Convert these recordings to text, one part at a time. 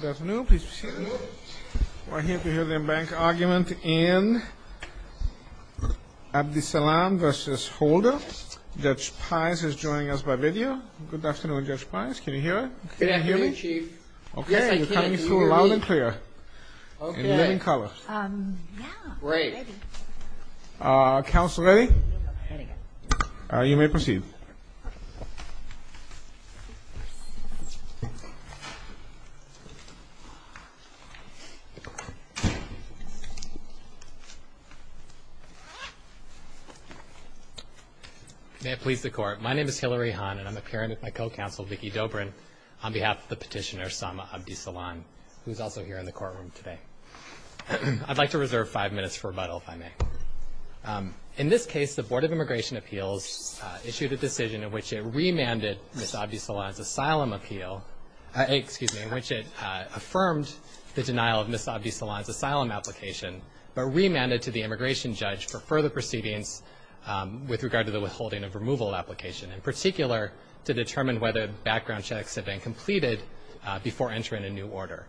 Good afternoon, please proceed. We're here to hear the embankment argument in Abdisalan v. Holder. Judge Pice is joining us by video. Good afternoon, Judge Pice. Can you hear me? Yes, I can, Chief. Okay, you're coming through loud and clear. Okay. In living color. Yeah. Great. Council ready? You may proceed. May it please the Court. My name is Hillary Hahn, and I'm appearing with my co-counsel, Vicky Dobrin, on behalf of the petitioner, Sama Abdisalan, who is also here in the courtroom today. I'd like to reserve five minutes for rebuttal, if I may. In this case, the Board of Immigration Appeals issued a decision in which it remanded Ms. Abdisalan's asylum appeal in which it affirmed the denial of Ms. Abdisalan's asylum application, but remanded to the immigration judge for further proceedings with regard to the withholding of removal application, in particular to determine whether background checks had been completed before entering a new order.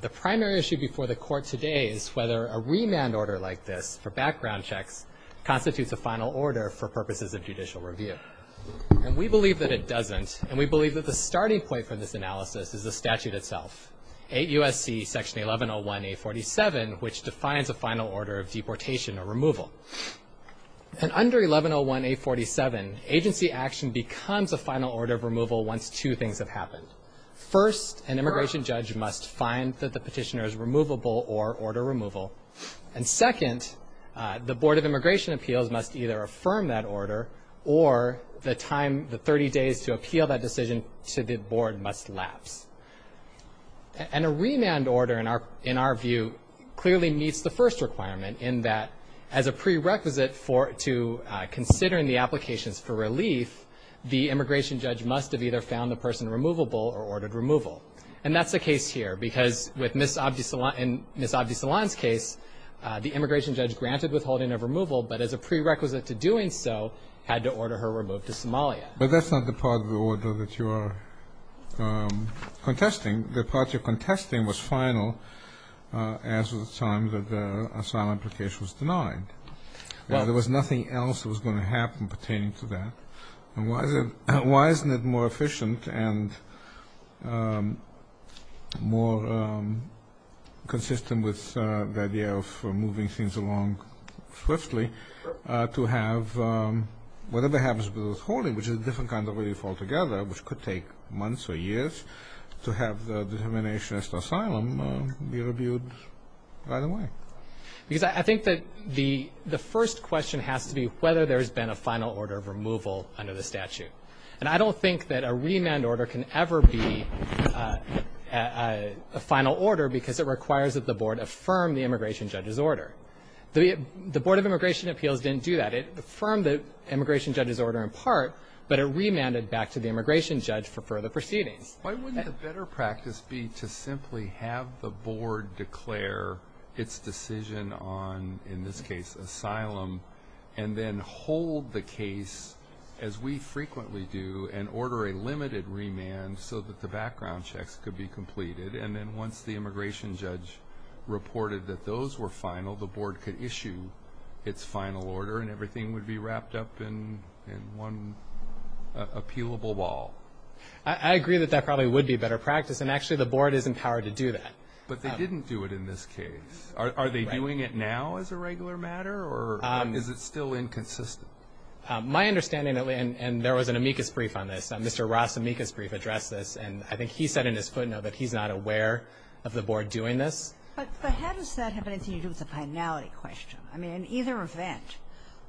The primary issue before the Court today is whether a remand order like this for background checks constitutes a final order for purposes of judicial review. And we believe that it doesn't, and we believe that the starting point for this analysis is the statute itself, 8 U.S.C. Section 1101A47, which defines a final order of deportation or removal. And under 1101A47, agency action becomes a final order of removal once two things have happened. First, an immigration judge must find that the petitioner is removable or order removal. And second, the Board of Immigration Appeals must either affirm that order or the time, the 30 days to appeal that decision to the Board must lapse. And a remand order, in our view, clearly meets the first requirement in that, as a prerequisite to considering the applications for relief, the immigration judge must have either found the person removable or ordered removal. And that's the case here, because with Ms. Abdi-Solan and Ms. Abdi-Solan's case, the immigration judge granted withholding of removal, but as a prerequisite to doing so had to order her removed to Somalia. But that's not the part of the order that you are contesting. The part you're contesting was final as of the time that the asylum application was denied. There was nothing else that was going to happen pertaining to that. Why isn't it more efficient and more consistent with the idea of moving things along swiftly to have whatever happens with withholding, which is a different kind of relief altogether, which could take months or years, to have the determination as to asylum be reviewed right away? Because I think that the first question has to be whether there's been a final order of removal under the statute. And I don't think that a remand order can ever be a final order, because it requires that the board affirm the immigration judge's order. The Board of Immigration Appeals didn't do that. It affirmed the immigration judge's order in part, but it remanded back to the immigration judge for further proceedings. Why wouldn't a better practice be to simply have the board declare its decision on, in this case, asylum, and then hold the case, as we frequently do, and order a limited remand so that the background checks could be completed? And then once the immigration judge reported that those were final, the board could issue its final order, and everything would be wrapped up in one appealable ball. I agree that that probably would be a better practice, and actually the board is empowered to do that. But they didn't do it in this case. Are they doing it now as a regular matter, or is it still inconsistent? My understanding, and there was an amicus brief on this. Mr. Ross' amicus brief addressed this. And I think he said in his footnote that he's not aware of the board doing this. But how does that have anything to do with the finality question? I mean, in either event,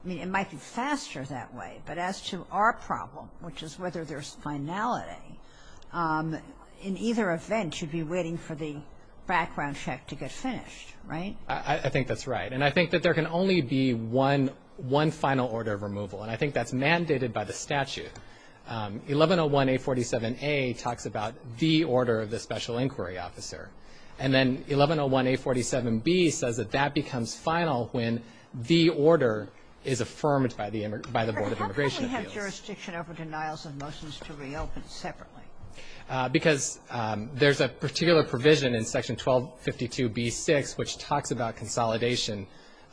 I mean, it might be faster that way. But as to our problem, which is whether there's finality, in either event you'd be waiting for the background check to get finished, right? I think that's right. And I think that there can only be one final order of removal, and I think that's mandated by the statute. 1101A47A talks about the order of the special inquiry officer. And then 1101A47B says that that becomes final when the order is affirmed by the board of immigration appeals. But how come we have jurisdiction over denials of motions to reopen separately? Because there's a particular provision in Section 1252B6 which talks about consolidation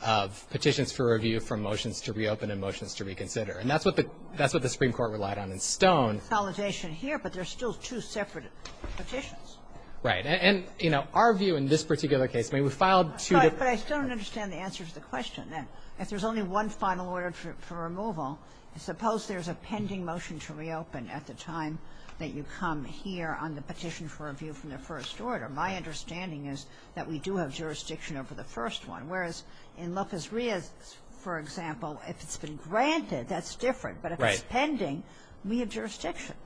of petitions for review from motions to reopen and motions to reconsider. And that's what the Supreme Court relied on in Stone. Consolidation here, but there's still two separate petitions. Right. And, you know, our view in this particular case, I mean, we filed two different I'm sorry, but I still don't understand the answer to the question. If there's only one final order for removal, suppose there's a pending motion to reopen at the time that you come here on the petition for review from the first order. My understanding is that we do have jurisdiction over the first one. Whereas in Lopez Ria, for example, if it's been granted, that's different. Right. But if it's pending, we have jurisdiction.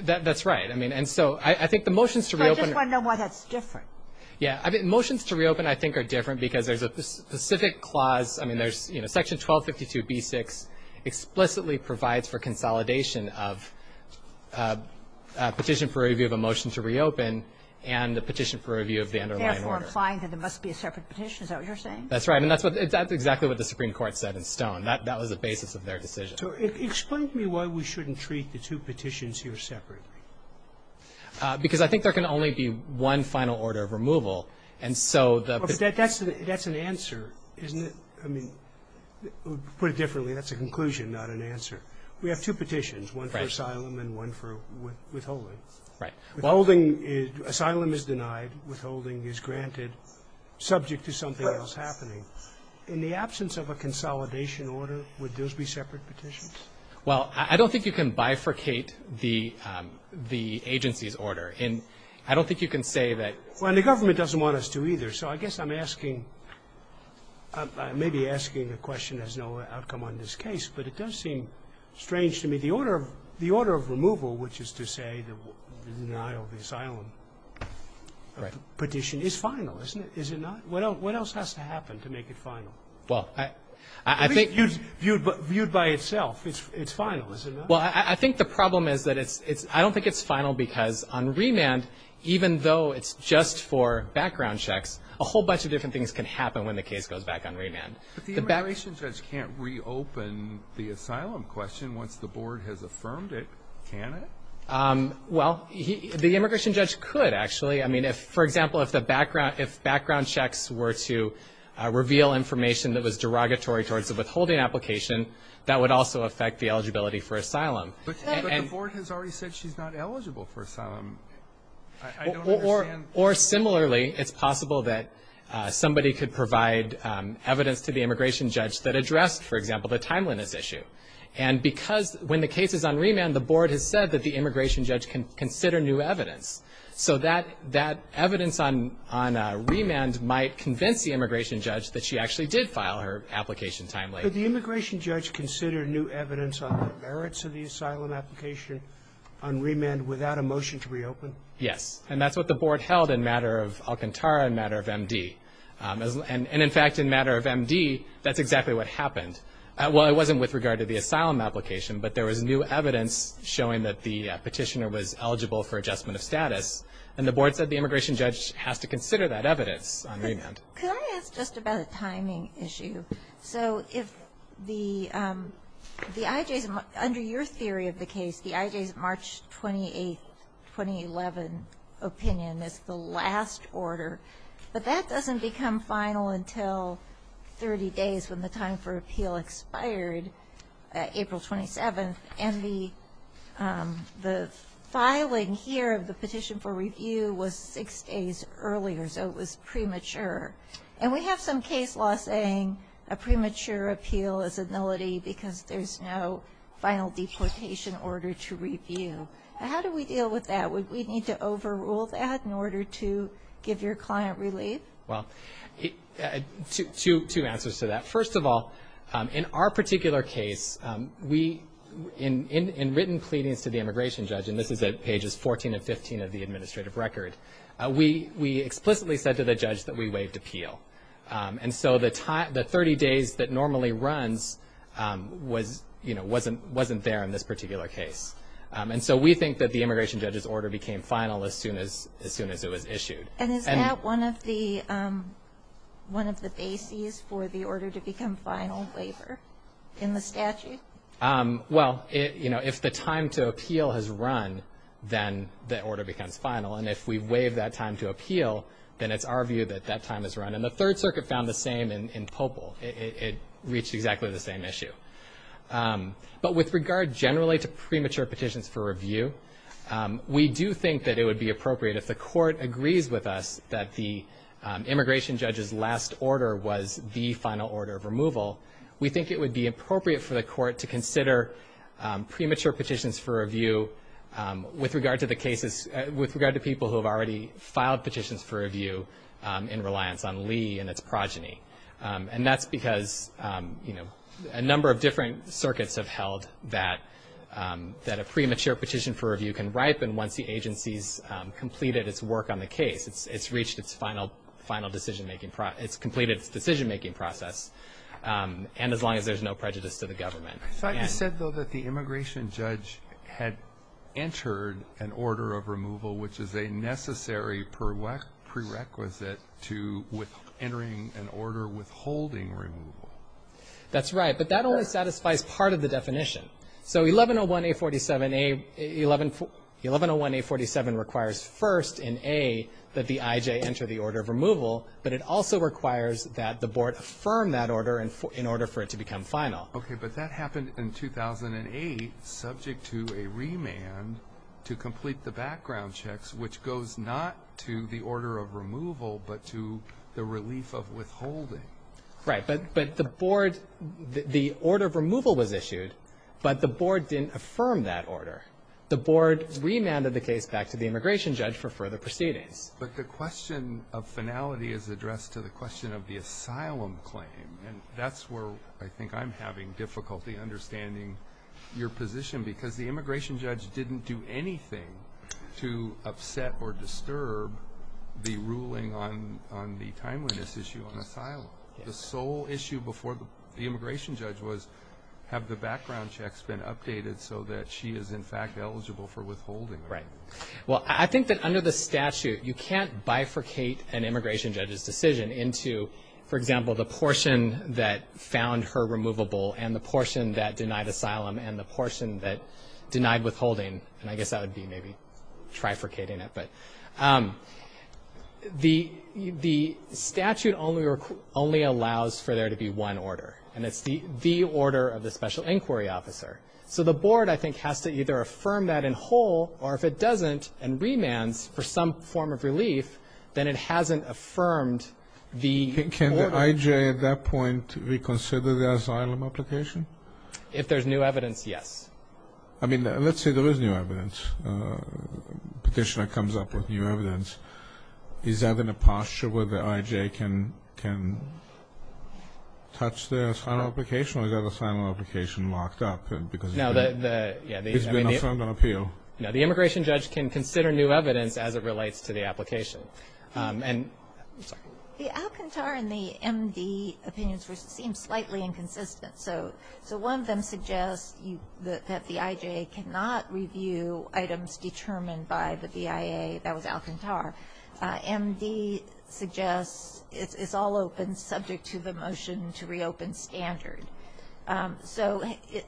That's right. I mean, and so I think the motions to reopen. So I just want to know why that's different. Yeah. Motions to reopen, I think, are different because there's a specific clause. I mean, there's, you know, Section 1252B6 explicitly provides for consolidation of a petition for review of a motion to reopen and a petition for review of the underlying order. Therefore implying that there must be a separate petition. Is that what you're saying? That's right. And that's exactly what the Supreme Court said in Stone. That was the basis of their decision. So explain to me why we shouldn't treat the two petitions here separately. Because I think there can only be one final order of removal. And so the ---- But that's an answer, isn't it? I mean, to put it differently, that's a conclusion, not an answer. We have two petitions, one for asylum and one for withholding. Right. Withholding is asylum is denied. Withholding is granted subject to something else happening. Right. In the absence of a consolidation order, would those be separate petitions? Well, I don't think you can bifurcate the agency's order. And I don't think you can say that ---- Well, and the government doesn't want us to either. So I guess I'm asking ---- I may be asking a question that has no outcome on this case, but it does seem strange to me. The order of removal, which is to say the denial of the asylum petition, is final, isn't it? Is it not? What else has to happen to make it final? Well, I think ---- Viewed by itself, it's final, isn't it? Well, I think the problem is that it's ---- I don't think it's final because on remand, even though it's just for background checks, a whole bunch of different things can happen when the case goes back on remand. But the immigration judge can't reopen the asylum question once the board has affirmed it, can it? Well, the immigration judge could, actually. I mean, for example, if background checks were to reveal information that was derogatory towards the withholding application, that would also affect the eligibility for asylum. But the board has already said she's not eligible for asylum. I don't understand ---- Or similarly, it's possible that somebody could provide evidence to the immigration judge that addressed, for example, the timeliness issue. And because when the case is on remand, the board has said that the immigration judge can consider new evidence. So that evidence on remand might convince the immigration judge that she actually did file her application timely. Could the immigration judge consider new evidence on the merits of the asylum application on remand without a motion to reopen? Yes. And that's what the board held in matter of Alcantara and matter of MD. And in fact, in matter of MD, that's exactly what happened. Well, it wasn't with regard to the asylum application, but there was new evidence showing that the petitioner was eligible for adjustment of status. And the board said the immigration judge has to consider that evidence on remand. Could I ask just about the timing issue? So if the IJs ---- under your theory of the case, the IJs March 28th, 2011 opinion is the last order. But that doesn't become final until 30 days when the time for appeal expired, April 27th, and the filing here of the petition for review was six days earlier, so it was premature. And we have some case law saying a premature appeal is a nullity because there's no final deportation order to review. How do we deal with that? Would we need to overrule that in order to give your client relief? Well, two answers to that. First of all, in our particular case, in written pleadings to the immigration judge, and this is at pages 14 and 15 of the administrative record, we explicitly said to the judge that we waived appeal. And so the 30 days that normally runs wasn't there in this particular case. And so we think that the immigration judge's order became final as soon as it was issued. And is that one of the bases for the order to become final waiver in the statute? Well, you know, if the time to appeal has run, then the order becomes final. And if we waive that time to appeal, then it's our view that that time has run. And the Third Circuit found the same in Popol. It reached exactly the same issue. But with regard generally to premature petitions for review, we do think that it would be appropriate if the court agrees with us that the immigration judge's last order was the final order of removal, we think it would be appropriate for the court to consider premature petitions for review with regard to people who have already filed petitions for review in reliance on Lee and its progeny. And that's because, you know, a number of different circuits have held that a premature petition for review can ripen once the agency's completed its work on the case. It's reached its final decision-making process. It's completed its decision-making process. And as long as there's no prejudice to the government. I thought you said, though, that the immigration judge had entered an order of removal, which is a necessary prerequisite to entering an order withholding removal. That's right. But that only satisfies part of the definition. So 1101A47 requires first in A that the IJ enter the order of removal, but it also requires that the board affirm that order in order for it to become final. Okay. But that happened in 2008 subject to a remand to complete the background checks, which goes not to the order of removal but to the relief of withholding. Right. But the board the order of removal was issued, but the board didn't affirm that order. The board remanded the case back to the immigration judge for further proceedings. But the question of finality is addressed to the question of the asylum claim. And that's where I think I'm having difficulty understanding your position, because the immigration judge didn't do anything to upset The sole issue before the immigration judge was have the background checks been updated so that she is, in fact, eligible for withholding. Right. Well, I think that under the statute you can't bifurcate an immigration judge's decision into, for example, the portion that found her removable and the portion that denied asylum and the portion that denied withholding. And I guess that would be maybe trifurcating it. But the statute only allows for there to be one order, and it's the order of the special inquiry officer. So the board, I think, has to either affirm that in whole, or if it doesn't and remands for some form of relief, then it hasn't affirmed the order. Can the IJ at that point reconsider the asylum application? If there's new evidence, yes. I mean, let's say there is new evidence. Petitioner comes up with new evidence. Is that in a posture where the IJ can touch the asylum application or is that asylum application locked up because it's been affirmed on appeal? No, the immigration judge can consider new evidence as it relates to the application. The Alcantara and the MD opinions seem slightly inconsistent. So one of them suggests that the IJ cannot review items determined by the BIA. That was Alcantara. MD suggests it's all open subject to the motion to reopen standard. So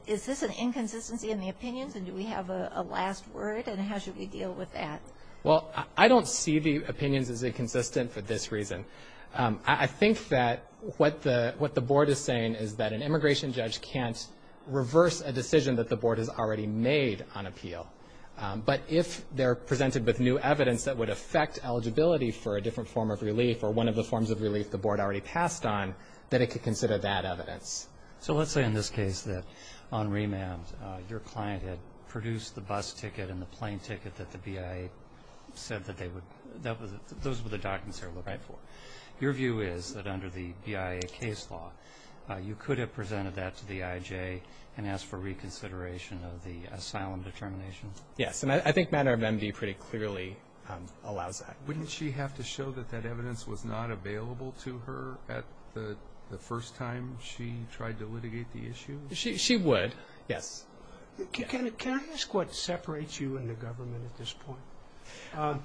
is this an inconsistency in the opinions, and do we have a last word, and how should we deal with that? Well, I don't see the opinions as inconsistent for this reason. I think that what the board is saying is that an immigration judge can't reverse a decision that the board has already made on appeal. But if they're presented with new evidence that would affect eligibility for a different form of relief or one of the forms of relief the board already passed on, that it could consider that evidence. So let's say in this case that on remand your client had produced the bus ticket and the plane ticket that the BIA said that those were the documents they were looking for. Your view is that under the BIA case law you could have presented that to the IJ and asked for reconsideration of the asylum determination? Yes, and I think manner of MD pretty clearly allows that. Wouldn't she have to show that that evidence was not available to her at the first time she tried to litigate the issue? She would, yes. Can I ask what separates you and the government at this point?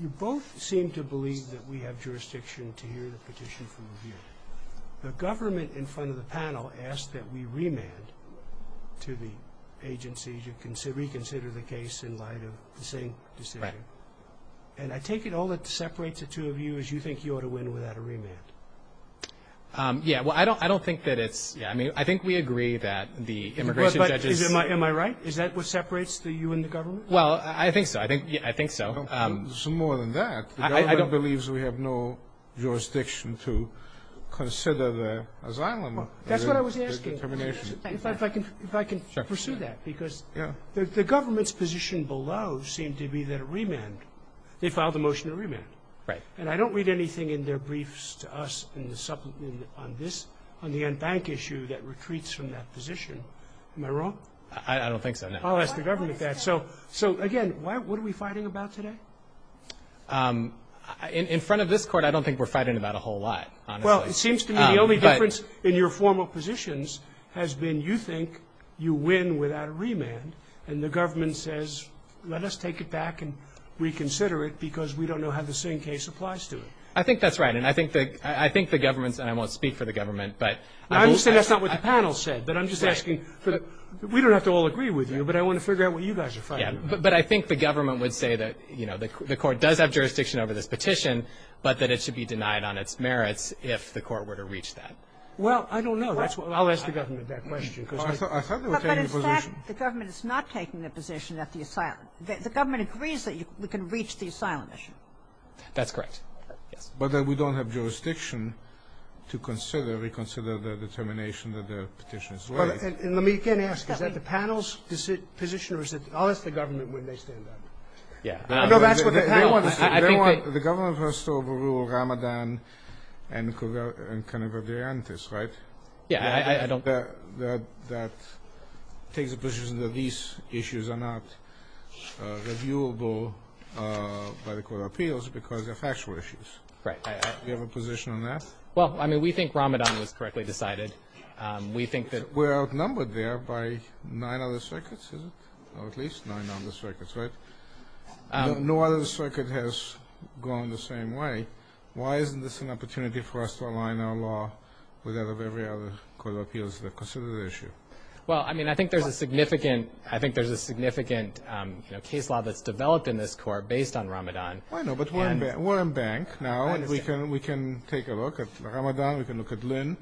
You both seem to believe that we have jurisdiction to hear the petition from a viewer. The government in front of the panel asked that we remand to the agency to reconsider the case in light of the same decision. And I take it all that separates the two of you is you think you ought to win without a remand. Yes, well, I don't think that it's, I mean, I think we agree that the immigration judges. Am I right? Is that what separates you and the government? Well, I think so. I think so. It's more than that. The government believes we have no jurisdiction to consider the asylum determination. That's what I was asking. If I can pursue that. Because the government's position below seemed to be that a remand, they filed a motion to remand. Right. And I don't read anything in their briefs to us on the unbanked issue that retreats from that position. Am I wrong? I don't think so, no. I'll ask the government that. So, again, what are we fighting about today? In front of this court, I don't think we're fighting about a whole lot, honestly. Well, it seems to me the only difference in your formal positions has been you think you win without a remand. And the government says let us take it back and reconsider it because we don't know how the same case applies to it. I think that's right. And I think the government's, and I won't speak for the government. I understand that's not what the panel said, but I'm just asking. We don't have to all agree with you, but I want to figure out what you guys are fighting about. But I think the government would say that, you know, the court does have jurisdiction over this petition, but that it should be denied on its merits if the court were to reach that. Well, I don't know. I'll ask the government that question. I thought they were taking a position. But, in fact, the government is not taking a position at the asylum. The government agrees that we can reach the asylum issue. That's correct. Yes. But we don't have jurisdiction to consider, reconsider the determination that the petition is laid. Let me again ask. Is that the panel's position or is it, I'll ask the government when they stand up. Yeah. No, that's what the panel. They want, the government has to overrule Ramadan and Cannabis Day, right? Yeah, I don't. That takes a position that these issues are not reviewable by the court of appeals because they're factual issues. Right. Do you have a position on that? Well, I mean, we think Ramadan was correctly decided. We think that. We're outnumbered there by nine other circuits, is it? Or at least nine other circuits, right? No other circuit has gone the same way. Why isn't this an opportunity for us to align our law with that of every other court of appeals that consider the issue? Well, I mean, I think there's a significant case law that's developed in this court based on Ramadan. I know, but we're in bank now. We can take a look at Ramadan. We can look at Lynn.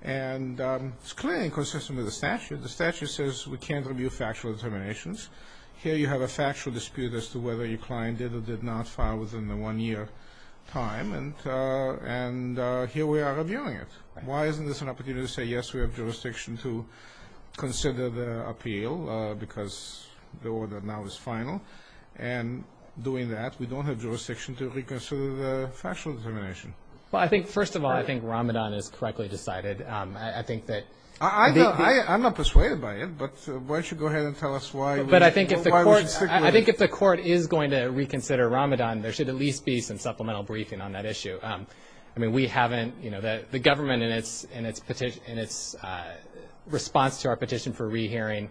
And it's clearly inconsistent with the statute. The statute says we can't review factual determinations. Here you have a factual dispute as to whether your client did or did not file within the one-year time. And here we are reviewing it. Why isn't this an opportunity to say, yes, we have jurisdiction to consider the appeal because the order now is final? And doing that, we don't have jurisdiction to reconsider the factual determination. Well, I think, first of all, I think Ramadan is correctly decided. I think that. I'm not persuaded by it, but why don't you go ahead and tell us why we should stick with it? I think if the court is going to reconsider Ramadan, there should at least be some supplemental briefing on that issue. I mean, we haven't. You know, the government in its response to our petition for rehearing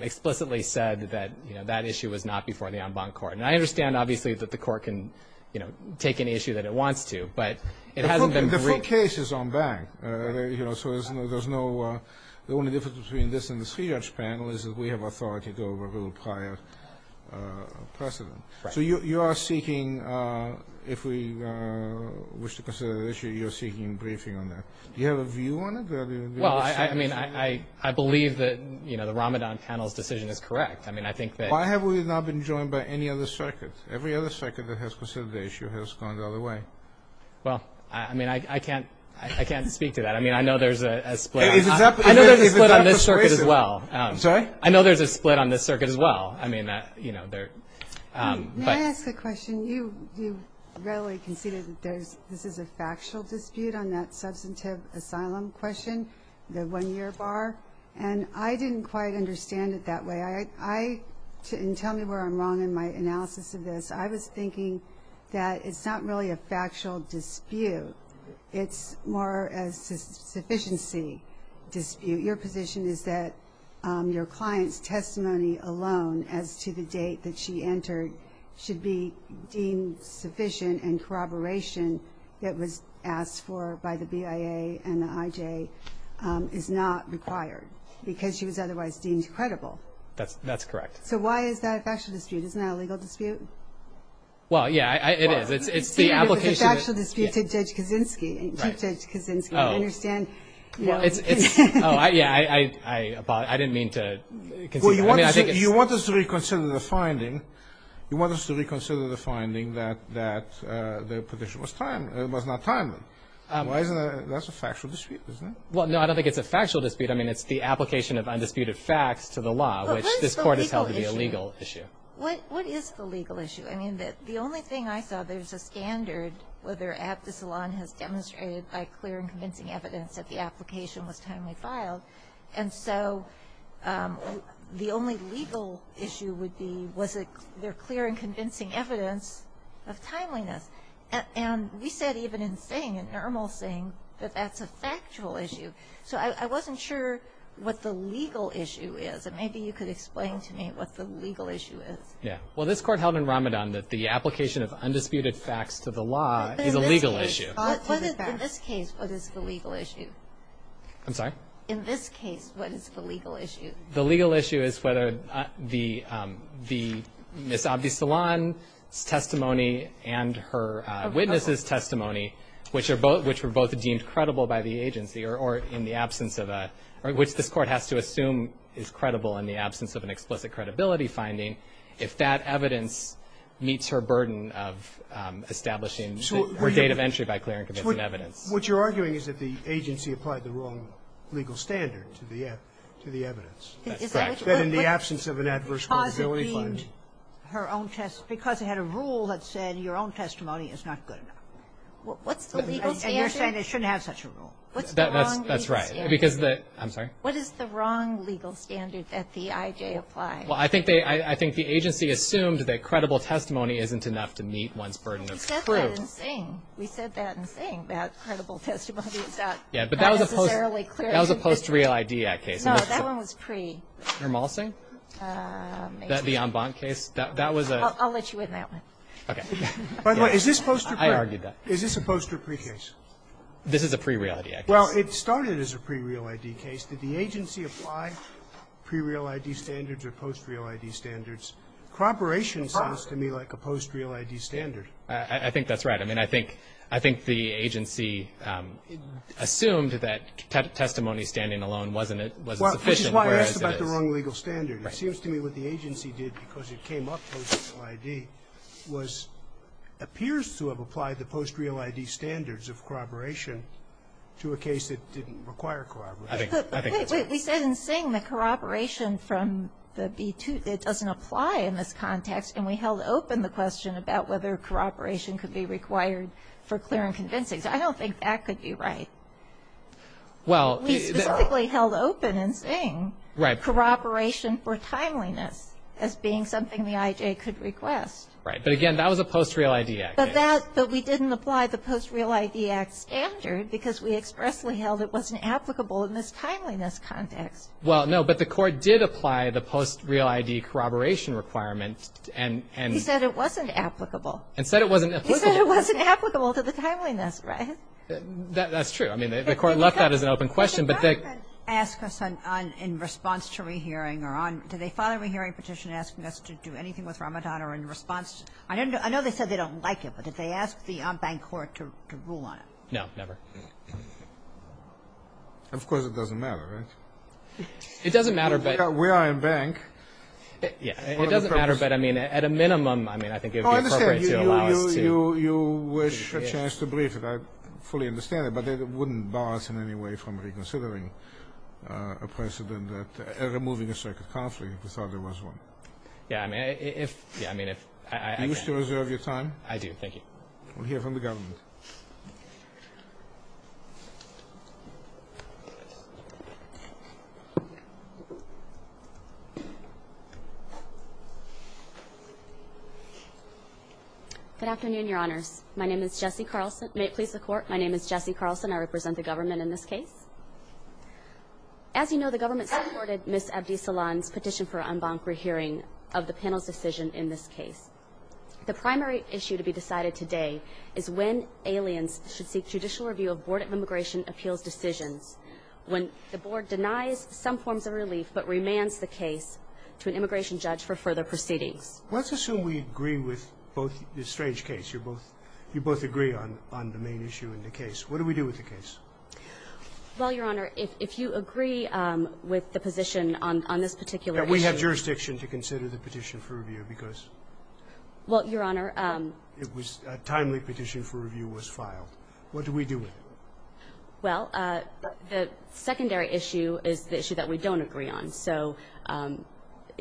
explicitly said that, you know, that issue was not before the en banc court. And I understand, obviously, that the court can, you know, take any issue that it wants to, but it hasn't been briefed. The full case is on bank. You know, so there's no, the only difference between this and this panel is that we have authority to overrule prior precedent. So you are seeking, if we wish to consider the issue, you're seeking briefing on that. Do you have a view on it? Well, I mean, I believe that, you know, the Ramadan panel's decision is correct. I mean, I think that. Why have we not been joined by any other circuit? Every other circuit that has considered the issue has gone the other way. Well, I mean, I can't speak to that. I mean, I know there's a split. I know there's a split on this circuit as well. I'm sorry? I know there's a split on this circuit as well. I mean, you know, there. May I ask a question? You readily conceded that this is a factual dispute on that substantive asylum question, the one-year bar. And I didn't quite understand it that way. And tell me where I'm wrong in my analysis of this. I was thinking that it's not really a factual dispute. It's more a sufficiency dispute. Your position is that your client's testimony alone as to the date that she entered should be deemed sufficient and corroboration that was asked for by the BIA and the IJ is not required because she was otherwise deemed credible. That's correct. So why is that a factual dispute? Isn't that a legal dispute? Well, yeah, it is. It's the application. It's a factual dispute to Judge Kaczynski. To Judge Kaczynski. I understand. Yeah, I didn't mean to. Well, you want us to reconsider the finding. You want us to reconsider the finding that the petition was not timely. That's a factual dispute, isn't it? Well, no, I don't think it's a factual dispute. I mean, it's the application of undisputed facts to the law, which this Court has held to be a legal issue. What is the legal issue? I mean, the only thing I saw, there's a standard whether Abdus Salaam has demonstrated by clear and convincing evidence that the application was timely filed. And so the only legal issue would be was there clear and convincing evidence of timeliness? And we said even in Singh, in normal Singh, that that's a factual issue. So I wasn't sure what the legal issue is. And maybe you could explain to me what the legal issue is. Yeah. Well, this Court held in Ramadan that the application of undisputed facts to the law is a legal issue. In this case, what is the legal issue? I'm sorry? In this case, what is the legal issue? The legal issue is whether the Ms. Abdus Salaam's testimony and her witness's testimony, which were both deemed credible by the agency or in the absence of a – which this Court has to assume is credible in the absence of an explicit credibility finding, if that evidence meets her burden of establishing her date of entry by clear and convincing evidence. What you're arguing is that the agency applied the wrong legal standard to the evidence. That's correct. That in the absence of an adverse probability finding. Because it deemed her own – because it had a rule that said your own testimony is not good enough. What's the legal standard? And you're saying it shouldn't have such a rule. What's the wrong legal standard? That's right. Because the – I'm sorry? What is the wrong legal standard that the IJ applied? Well, I think they – I think the agency assumed that credible testimony isn't enough to meet one's burden of proof. We said that in Sing. We said that in Sing, that credible testimony is not necessarily clear evidence. Yeah, but that was a post-Real ID Act case. No, that one was pre- Hermal Singh? Maybe. The Ambant case? That was a – I'll let you win that one. Okay. By the way, is this supposed to be – I argued that. Is this a post-or pre-case? This is a pre-Real ID Act case. Well, it started as a pre-Real ID case. Did the agency apply pre-Real ID standards or post-Real ID standards? Corroboration seems to me like a post-Real ID standard. I think that's right. I mean, I think – I think the agency assumed that testimony standing alone wasn't sufficient, whereas it is. Well, which is why I asked about the wrong legal standard. It seems to me what the agency did because it came up post-Real ID was – appears to have applied the post-Real ID standards of corroboration to a case that didn't require corroboration. I think – I think that's right. We said in Singh that corroboration from the B-2, it doesn't apply in this context, and we held open the question about whether corroboration could be required for clear and convincing. So I don't think that could be right. Well – We specifically held open in Singh – Right. – corroboration for timeliness as being something the IJ could request. Right. But, again, that was a post-Real ID act case. But that – but we didn't apply the post-Real ID act standard because we expressly held it wasn't applicable in this timeliness context. Well, no, but the Court did apply the post-Real ID corroboration requirement and – He said it wasn't applicable. And said it wasn't applicable. He said it wasn't applicable to the timeliness, right? That's true. I mean, the Court left that as an open question, but the – The government asked us on – in response to rehearing or on – did they file a rehearing petition asking us to do anything with Ramadan or in response? I know they said they don't like it, but did they ask the bank court to rule on it? No, never. Of course, it doesn't matter, right? It doesn't matter, but – We are a bank. Yeah. It doesn't matter, but, I mean, at a minimum, I mean, I think it would be appropriate to allow us to – Oh, I understand. You wish a chance to brief it. I fully understand it. But it wouldn't bar us in any way from reconsidering a precedent that – removing a circuit conflict if we thought there was one. Yeah, I mean, if – yeah, I mean, if – Do you still reserve your time? I do. Thank you. We'll hear from the government. Good afternoon, Your Honors. My name is Jessie Carlson. May it please the Court, my name is Jessie Carlson. I represent the government in this case. As you know, the government supported Ms. Abdisalan's petition for an embankment hearing of the panel's decision in this case. The primary issue to be decided today is when aliens should seek judicial review of Board of Immigration Appeals decisions when the board denies some forms of relief but remands the case to an immigration judge for further proceedings. Let's assume we agree with both – this strange case. You both agree on the main issue in the case. What do we do with the case? Well, Your Honor, if you agree with the position on this particular issue – That we have jurisdiction to consider the petition for review because – Well, Your Honor – It was – a timely petition for review was filed. What do we do with it? Well, the secondary issue is the issue that we don't agree on. So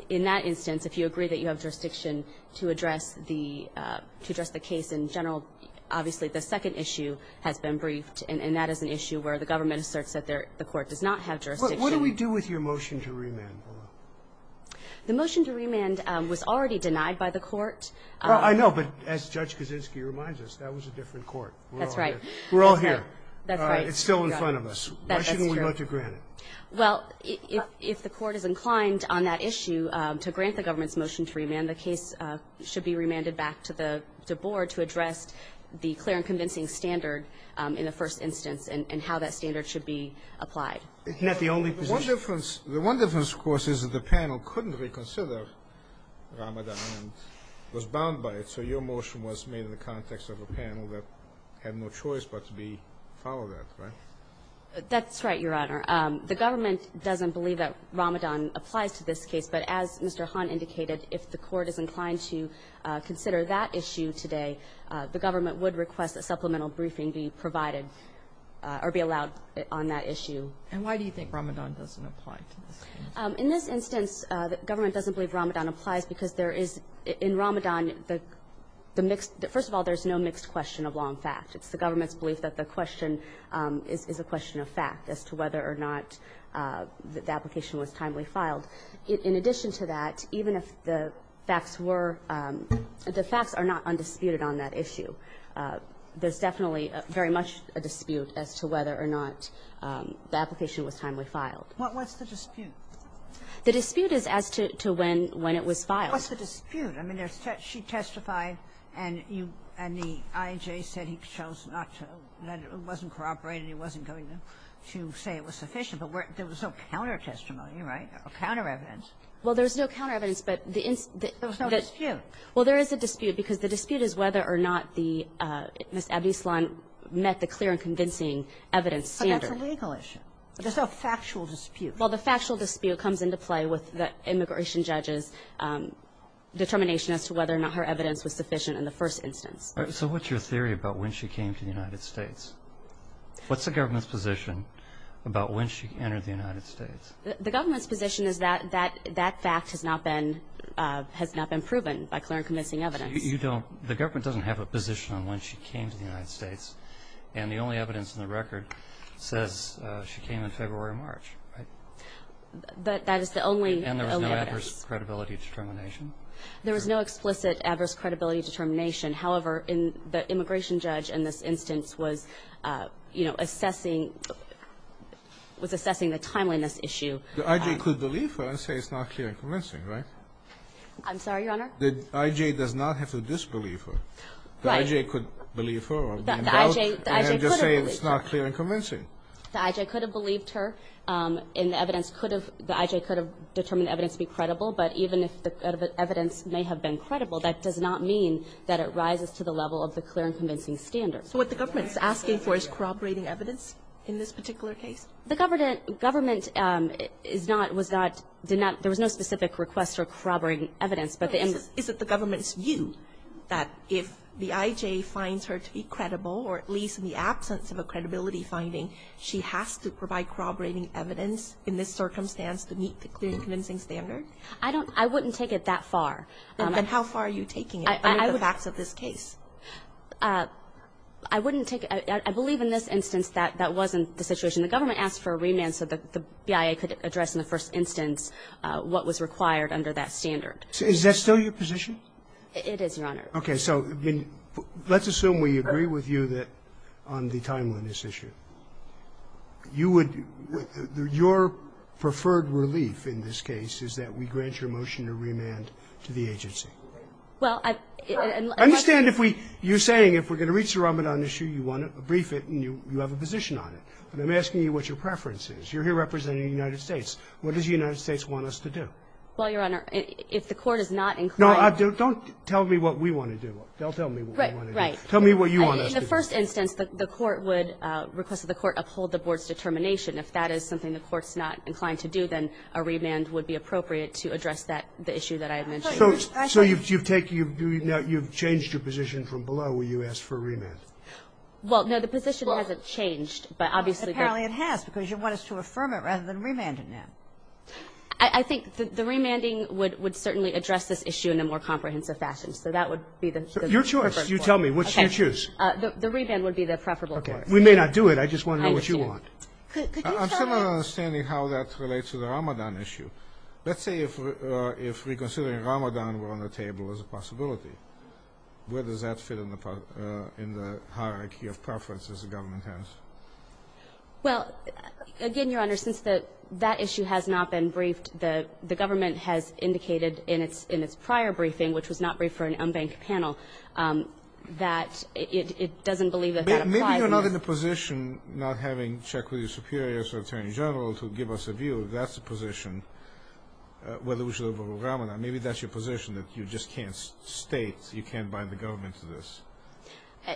in that instance, if you agree that you have jurisdiction to address the – to address the case in general, obviously the second issue has been briefed and that is an issue where the government asserts that the court does not have jurisdiction. What do we do with your motion to remand? The motion to remand was already denied by the court. I know, but as Judge Kaczynski reminds us, that was a different court. That's right. We're all here. That's right. It's still in front of us. That's true. Why shouldn't we let you grant it? Well, if the court is inclined on that issue to grant the government's motion to remand, then the case should be remanded back to the board to address the clear and convincing standard in the first instance and how that standard should be applied. It's not the only position. The one difference, of course, is that the panel couldn't reconsider Ramadan and was bound by it, so your motion was made in the context of a panel that had no choice but to be followed up, right? That's right, Your Honor. The government doesn't believe that Ramadan applies to this case, but as Mr. Hahn indicated, if the court is inclined to consider that issue today, the government would request a supplemental briefing be provided or be allowed on that issue. And why do you think Ramadan doesn't apply to this case? In this instance, the government doesn't believe Ramadan applies because there is, in Ramadan, the mixed – first of all, there's no mixed question of long fact. It's the government's belief that the question is a question of fact as to whether or not the application was timely filed. In addition to that, even if the facts were – the facts are not undisputed on that issue. There's definitely very much a dispute as to whether or not the application was timely filed. What's the dispute? The dispute is as to when it was filed. What's the dispute? I mean, there's – she testified and you – and the IJ said he chose not to – that it wasn't corroborated, he wasn't going to say it was sufficient. But there was no counter-testimony, right? No counter-evidence. Well, there's no counter-evidence, but the – There was no dispute. Well, there is a dispute because the dispute is whether or not the – Ms. Abdislan met the clear and convincing evidence standard. But that's a legal issue. There's no factual dispute. Well, the factual dispute comes into play with the immigration judge's determination as to whether or not her evidence was sufficient in the first instance. All right. So what's your theory about when she came to the United States? What's the government's position about when she entered the United States? The government's position is that that fact has not been – has not been proven by clear and convincing evidence. You don't – the government doesn't have a position on when she came to the United States, and the only evidence in the record says she came in February or March, right? That is the only evidence. And there was no adverse credibility determination? There was no explicit adverse credibility determination. However, the immigration judge in this instance was, you know, assessing – The I.J. could believe her and say it's not clear and convincing, right? I'm sorry, Your Honor? The I.J. does not have to disbelieve her. Right. The I.J. could believe her or be in doubt and just say it's not clear and convincing. The I.J. could have believed her, and the evidence could have – the I.J. could have determined the evidence to be credible. But even if the evidence may have been credible, that does not mean that it rises to the level of the clear and convincing standard. So what the government is asking for is corroborating evidence in this particular The government is not – was not – did not – there was no specific request for corroborating evidence. Is it the government's view that if the I.J. finds her to be credible, or at least in the absence of a credibility finding, she has to provide corroborating evidence in this circumstance to meet the clear and convincing standard? I don't – I wouldn't take it that far. Then how far are you taking it under the facts of this case? I wouldn't take – I believe in this instance that that wasn't the situation The government asked for a remand so that the BIA could address in the first instance what was required under that standard. Is that still your position? It is, Your Honor. Okay. So let's assume we agree with you that on the timeliness issue, you would – your preferred relief in this case is that we grant your motion to remand to the agency. Well, I – I understand if we – you're saying if we're going to reach the Ramadan issue, you want to brief it and you have a position on it. But I'm asking you what your preference is. You're here representing the United States. What does the United States want us to do? Well, Your Honor, if the court is not inclined to do it – No, don't tell me what we want to do. They'll tell me what we want to do. Right, right. Tell me what you want us to do. In the first instance, the court would request that the court uphold the board's determination. If that is something the court's not inclined to do, then a remand would be appropriate to address that – the issue that I have mentioned. So you've taken – you've changed your position from below where you asked for a remand? Well, no, the position hasn't changed, but obviously – Apparently it has because you want us to affirm it rather than remand it now. I think the remanding would certainly address this issue in a more comprehensive fashion. So that would be the – Your choice. You tell me. What should you choose? The remand would be the preferable course. We may not do it. I just want to know what you want. I understand. Could you tell me – I'm still not understanding how that relates to the Ramadan issue. Let's say if we're considering Ramadan were on the table as a possibility. Where does that fit in the hierarchy of preferences the government has? Well, again, Your Honor, since that issue has not been briefed, the government has indicated in its prior briefing, which was not briefed for an unbanked panel, that it doesn't believe that that applies. Maybe you're not in a position, not having check with your superiors or attorney general to give us a view if that's the position, whether we should have a Ramadan. Maybe that's your position, that you just can't state, you can't bind the government to this.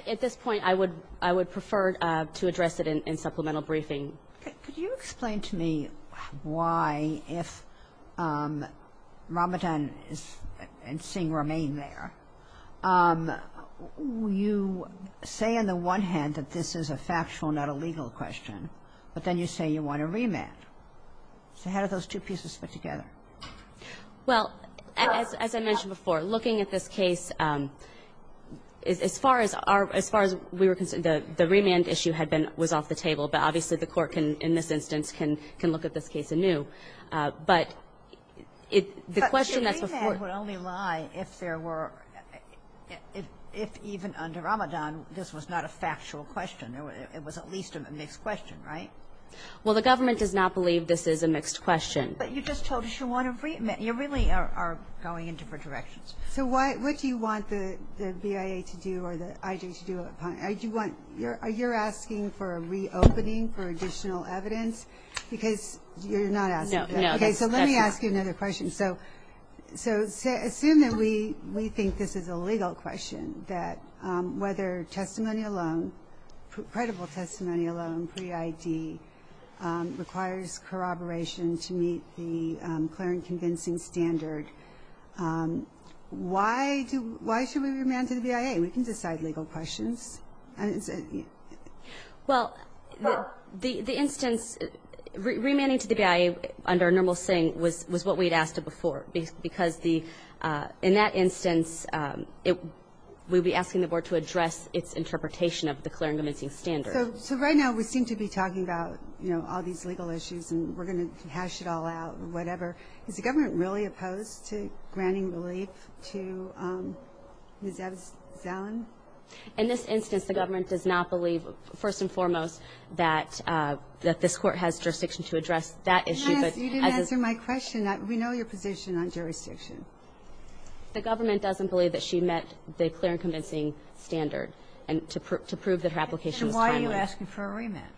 At this point, I would prefer to address it in supplemental briefing. Could you explain to me why, if Ramadan and Singh remain there, you say on the one hand that this is a factual, not a legal question, but then you say you want a remand. So how do those two pieces fit together? Well, as I mentioned before, looking at this case, as far as we were concerned, the remand issue had been, was off the table. But obviously the court can, in this instance, can look at this case anew. But the question that's before you. But your remand would only lie if there were, if even under Ramadan, this was not a factual question. It was at least a mixed question, right? Well, the government does not believe this is a mixed question. But you just told us you want a remand. You really are going in different directions. So what do you want the BIA to do or the IG to do? Are you asking for a reopening for additional evidence? Because you're not asking that. No. Okay, so let me ask you another question. So assume that we think this is a legal question, that whether testimony alone, pre-ID, requires corroboration to meet the clear and convincing standard. Why do, why should we remand to the BIA? We can decide legal questions. Well, the instance, remanding to the BIA under a normal setting was what we had asked of before. Because the, in that instance, we would be asking the board to address its interpretation of the clear and convincing standard. So right now we seem to be talking about, you know, all these legal issues and we're going to hash it all out or whatever. Is the government really opposed to granting relief to Ms. Evans-Zelland? In this instance, the government does not believe, first and foremost, that this court has jurisdiction to address that issue. Yes, you didn't answer my question. We know your position on jurisdiction. The government doesn't believe that she met the clear and convincing standard to prove that her application is timely. And why are you asking for a remand?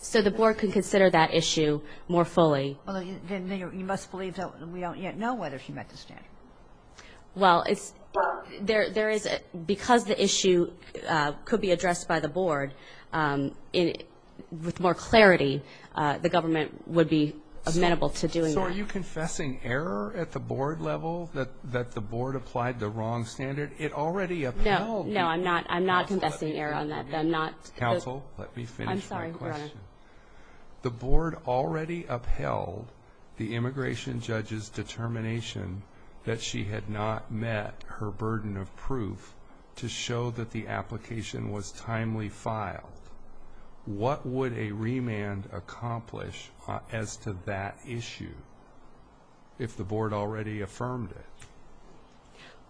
So the board can consider that issue more fully. Well, then you must believe that we don't yet know whether she met the standard. Well, it's, there is, because the issue could be addressed by the board with more clarity, the government would be amenable to doing that. So are you confessing error at the board level that the board applied the wrong standard? It already appealed. No, I'm not confessing error on that. Counsel, let me finish my question. The board already upheld the immigration judge's determination that she had not met her burden of proof to show that the application was timely filed. What would a remand accomplish as to that issue if the board already affirmed it?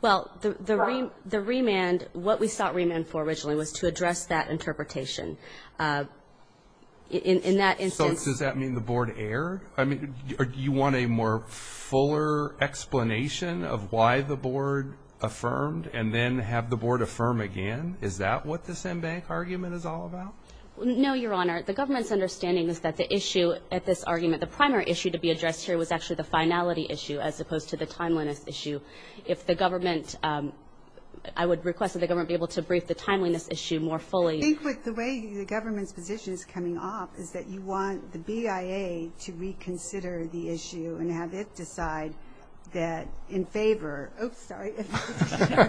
Well, the remand, what we sought remand for originally was to address that interpretation. In that instance. So does that mean the board erred? I mean, you want a more fuller explanation of why the board affirmed and then have the board affirm again? Is that what this en banc argument is all about? No, Your Honor. The government's understanding is that the issue at this argument, the primary issue to be addressed here was actually the finality issue as opposed to the timeliness issue. If the government, I would request that the government be able to brief the timeliness issue more fully. I think with the way the government's position is coming off is that you want the BIA to reconsider the issue and have it decide that in favor, oops, sorry, in favor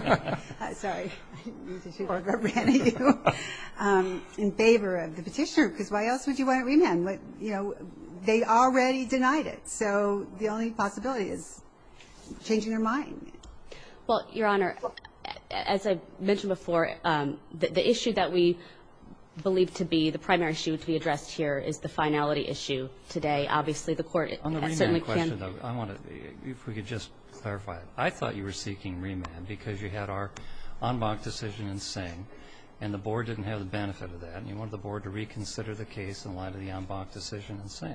of the petitioner because why else would you want a remand? They already denied it. So the only possibility is changing their mind. Well, Your Honor, as I mentioned before, the issue that we believe to be the primary issue to be addressed here is the finality issue today. Obviously the court certainly can. On the remand question, if we could just clarify it. I thought you were seeking remand because you had our en banc decision in Sing and the board didn't have the benefit of that and you wanted the board to reconsider the case in light of the en banc decision in Sing.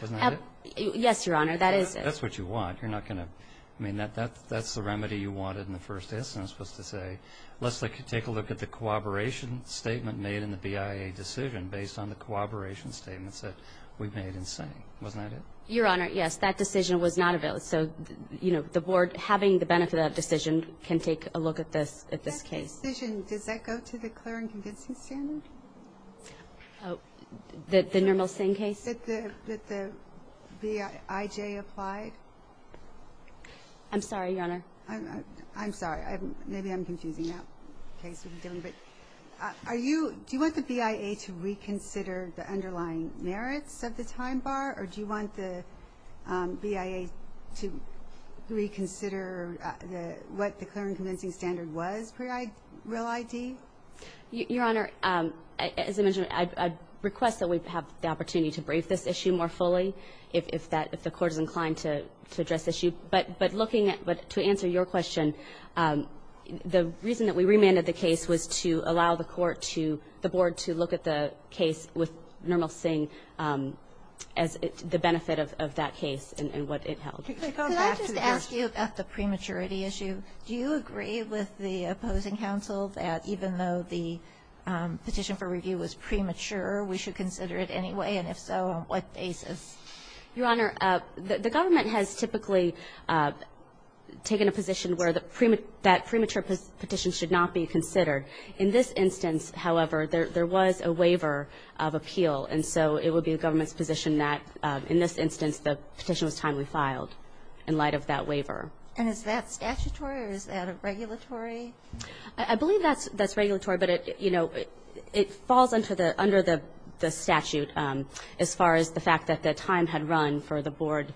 Wasn't that it? Yes, Your Honor. That is it. That's what you want. You're not going to, I mean, that's the remedy you wanted in the first instance was to say let's take a look at the cooperation statement made in the BIA decision based on the cooperation statements that we've made in Sing. Wasn't that it? Your Honor, yes. That decision was not available. So, you know, the board, having the benefit of that decision, can take a look at this case. That decision, does that go to the clear and convincing standard? The normal Sing case? That the BIJ applied? I'm sorry, Your Honor. I'm sorry. Maybe I'm confusing that case a little bit. Are you, do you want the BIA to reconsider the underlying merits of the time bar or do you want the BIA to reconsider what the clear and convincing standard was per real ID? Your Honor, as I mentioned, I request that we have the opportunity to brief this issue more fully if that, if the court is inclined to address the issue. But looking at, to answer your question, the reason that we remanded the case was to allow the court to, the board to look at the case with normal Sing as the benefit of that case and what it held. Can I just ask you about the prematurity issue? Do you agree with the opposing counsel that even though the petition for review was premature, we should consider it anyway? And if so, on what basis? Your Honor, the government has typically taken a position where that premature petition should not be considered. In this instance, however, there was a waiver of appeal. And so it would be the government's position that in this instance the petition was timely filed in light of that waiver. And is that statutory or is that a regulatory? I believe that's regulatory. But it, you know, it falls under the statute as far as the fact that the time had run for the board,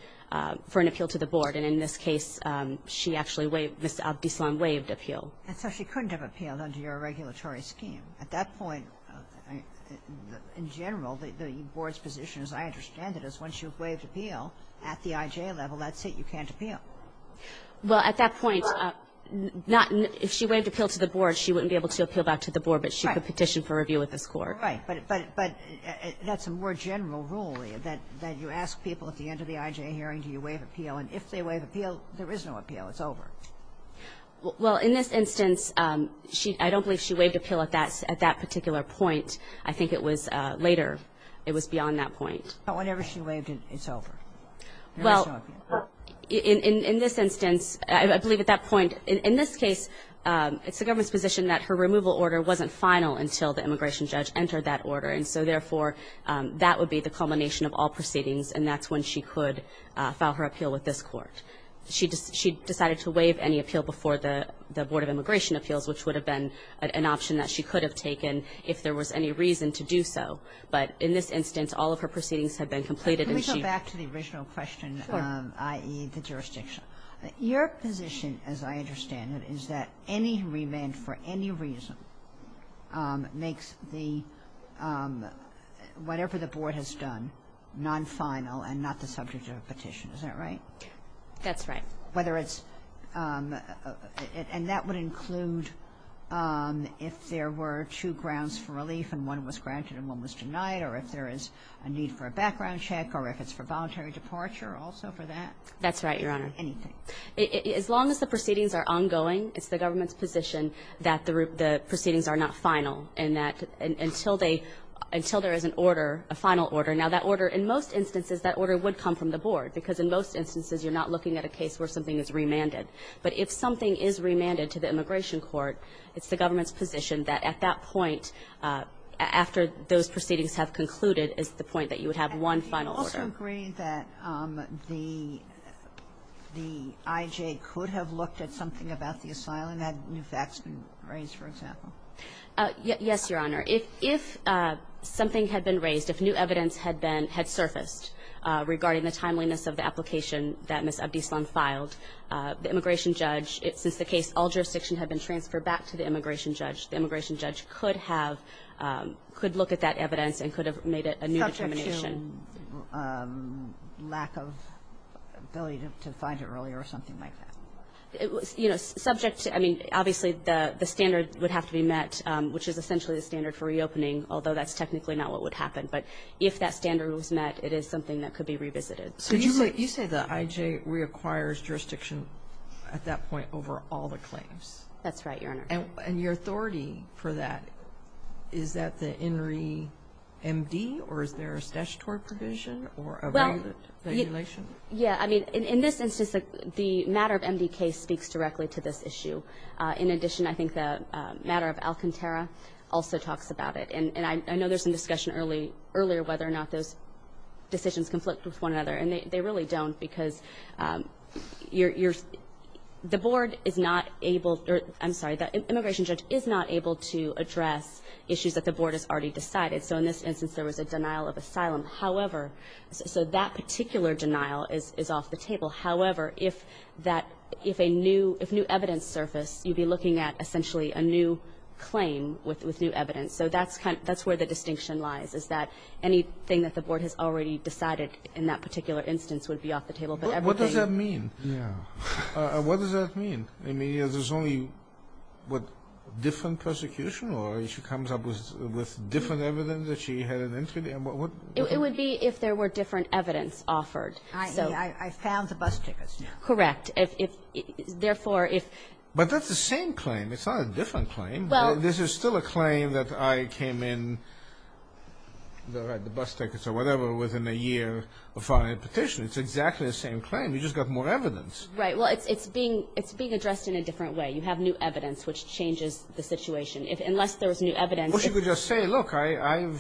for an appeal to the board. And in this case, she actually waived, Ms. Abdislam waived appeal. And so she couldn't have appealed under your regulatory scheme. At that point, in general, the board's position, as I understand it, is once you've waived appeal at the IJ level, that's it, you can't appeal. Well, at that point, not, if she waived appeal to the board, she wouldn't be able to appeal back to the board. Right. But she could petition for review with this Court. Right. But that's a more general ruling, that you ask people at the end of the IJ hearing, do you waive appeal? And if they waive appeal, there is no appeal. It's over. Well, in this instance, I don't believe she waived appeal at that particular point. I think it was later. It was beyond that point. But whenever she waived it, it's over. There is no appeal. Well, in this instance, I believe at that point, in this case, it's the government's position that her removal order wasn't final until the immigration judge entered that order, and so, therefore, that would be the culmination of all proceedings, and that's when she could file her appeal with this Court. She decided to waive any appeal before the Board of Immigration Appeals, which would have been an option that she could have taken if there was any reason to do so. But in this instance, all of her proceedings have been completed and she can't. Can we go back to the original question? Sure. I.e., the jurisdiction. Your position, as I understand it, is that any remand for any reason makes the – whatever the Board has done non-final and not the subject of a petition. Is that right? That's right. Whether it's – and that would include if there were two grounds for relief and one was granted and one was denied, or if there is a need for a background check, or if it's for voluntary departure also for that? That's right, Your Honor. Anything. As long as the proceedings are ongoing, it's the government's position that the proceedings are not final and that until they – until there is an order, a final order. Now, that order, in most instances, that order would come from the Board, because in most instances you're not looking at a case where something is remanded. But if something is remanded to the immigration court, it's the government's position that at that point, after those proceedings have concluded, is the point that you would have one final order. Would you also agree that the IJ could have looked at something about the asylum had new facts been raised, for example? Yes, Your Honor. If something had been raised, if new evidence had been – had surfaced regarding the timeliness of the application that Ms. Abdislam filed, the immigration judge, since the case – all jurisdiction had been transferred back to the immigration judge, the immigration judge could have – could look at that evidence and could have made it a new determination. Was there some lack of ability to find it earlier or something like that? You know, subject to – I mean, obviously, the standard would have to be met, which is essentially the standard for reopening, although that's technically not what would happen. But if that standard was met, it is something that could be revisited. So you say the IJ reacquires jurisdiction at that point over all the claims? That's right, Your Honor. And your authority for that, is that the INRI MD or is there a statutory provision or a regulation? Well, yeah. I mean, in this instance, the matter of MD case speaks directly to this issue. In addition, I think the matter of Alcantara also talks about it. And I know there was some discussion earlier whether or not those decisions conflict with one another, and they really don't because you're – the board is not able – I'm sorry, the immigration judge is not able to address issues that the board has already decided. So in this instance, there was a denial of asylum. However – so that particular denial is off the table. However, if that – if a new – if new evidence surfaced, you'd be looking at essentially a new claim with new evidence. So that's where the distinction lies, is that anything that the board has already decided in that particular instance would be off the table. But everything – What does that mean? Yeah. What does that mean? I mean, there's only, what, different persecution or she comes up with different evidence that she had an entity? It would be if there were different evidence offered. I found the bus tickets. Correct. Therefore, if – But that's the same claim. It's not a different claim. Well – This is still a claim that I came in – the bus tickets or whatever within a year of filing a petition. It's exactly the same claim. You just got more evidence. Right. Well, it's being – it's being addressed in a different way. You have new evidence, which changes the situation. Unless there was new evidence – Well, she could just say, look, I'm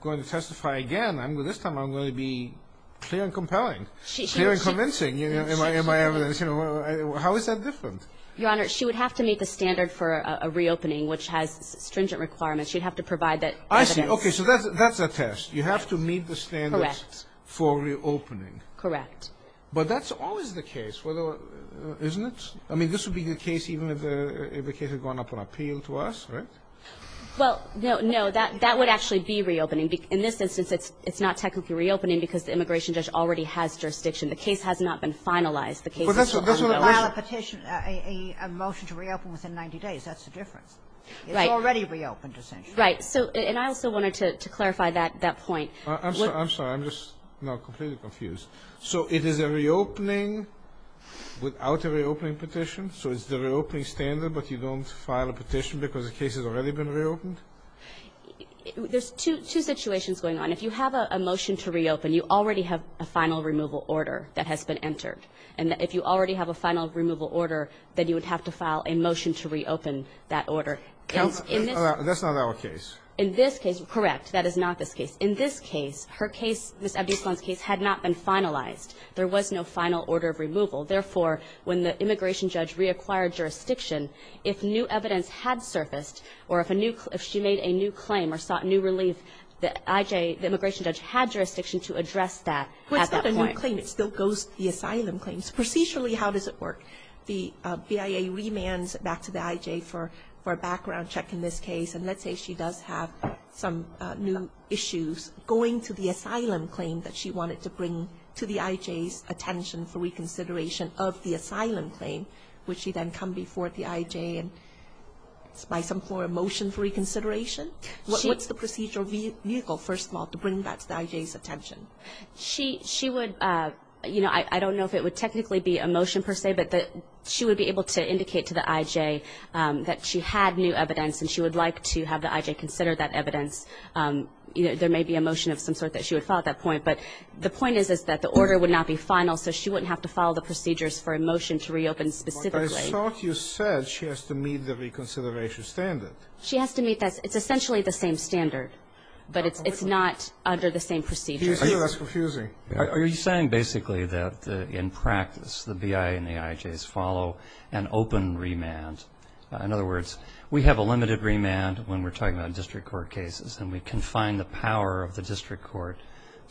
going to testify again. This time I'm going to be clear and compelling, clear and convincing in my evidence. How is that different? Your Honor, she would have to meet the standard for a reopening, which has stringent requirements. She'd have to provide that evidence. I see. Okay. So that's a test. You have to meet the standards for reopening. Correct. But that's always the case, isn't it? I mean, this would be the case even if the case had gone up on appeal to us, right? Well, no, no. That would actually be reopening. In this instance, it's not technically reopening because the immigration judge already has jurisdiction. The case has not been finalized. The case is still unknown. Well, that's – that's what it was. Filing a petition, a motion to reopen within 90 days, that's the difference. Right. It's already reopened, essentially. Right. So – and I also wanted to clarify that point. I'm sorry. I'm sorry. I'm just now completely confused. So it is a reopening without a reopening petition? So it's the reopening standard, but you don't file a petition because the case has already been reopened? There's two situations going on. If you have a motion to reopen, you already have a final removal order that has been entered. And if you already have a final removal order, then you would have to file a motion to reopen that order. That's not our case. In this case, correct, that is not this case. In this case, her case, Ms. Abdisalan's case, had not been finalized. There was no final order of removal. Therefore, when the immigration judge reacquired jurisdiction, if new evidence had surfaced or if a new – if she made a new claim or sought new relief, the IJ, the immigration judge, had jurisdiction to address that at that point. Well, it's not a new claim. It still goes to the asylum claims. Procedurally, how does it work? The BIA remands back to the IJ for a background check in this case, and let's say she does have some new issues going to the asylum claim that she wanted to bring to the IJ's attention for reconsideration of the asylum claim. Would she then come before the IJ by some form of motion for reconsideration? What's the procedural vehicle, first of all, to bring back to the IJ's attention? She would – you know, I don't know if it would technically be a motion per se, but she would be able to indicate to the IJ that she had new evidence and she would like to have the IJ consider that evidence. There may be a motion of some sort that she would follow at that point. But the point is, is that the order would not be final, so she wouldn't have to follow the procedures for a motion to reopen specifically. But I thought you said she has to meet the reconsideration standard. She has to meet that. It's essentially the same standard, but it's not under the same procedures. Do you see that's confusing? Are you saying basically that in practice the BIA and the IJs follow an open remand? In other words, we have a limited remand when we're talking about district court cases and we confine the power of the district court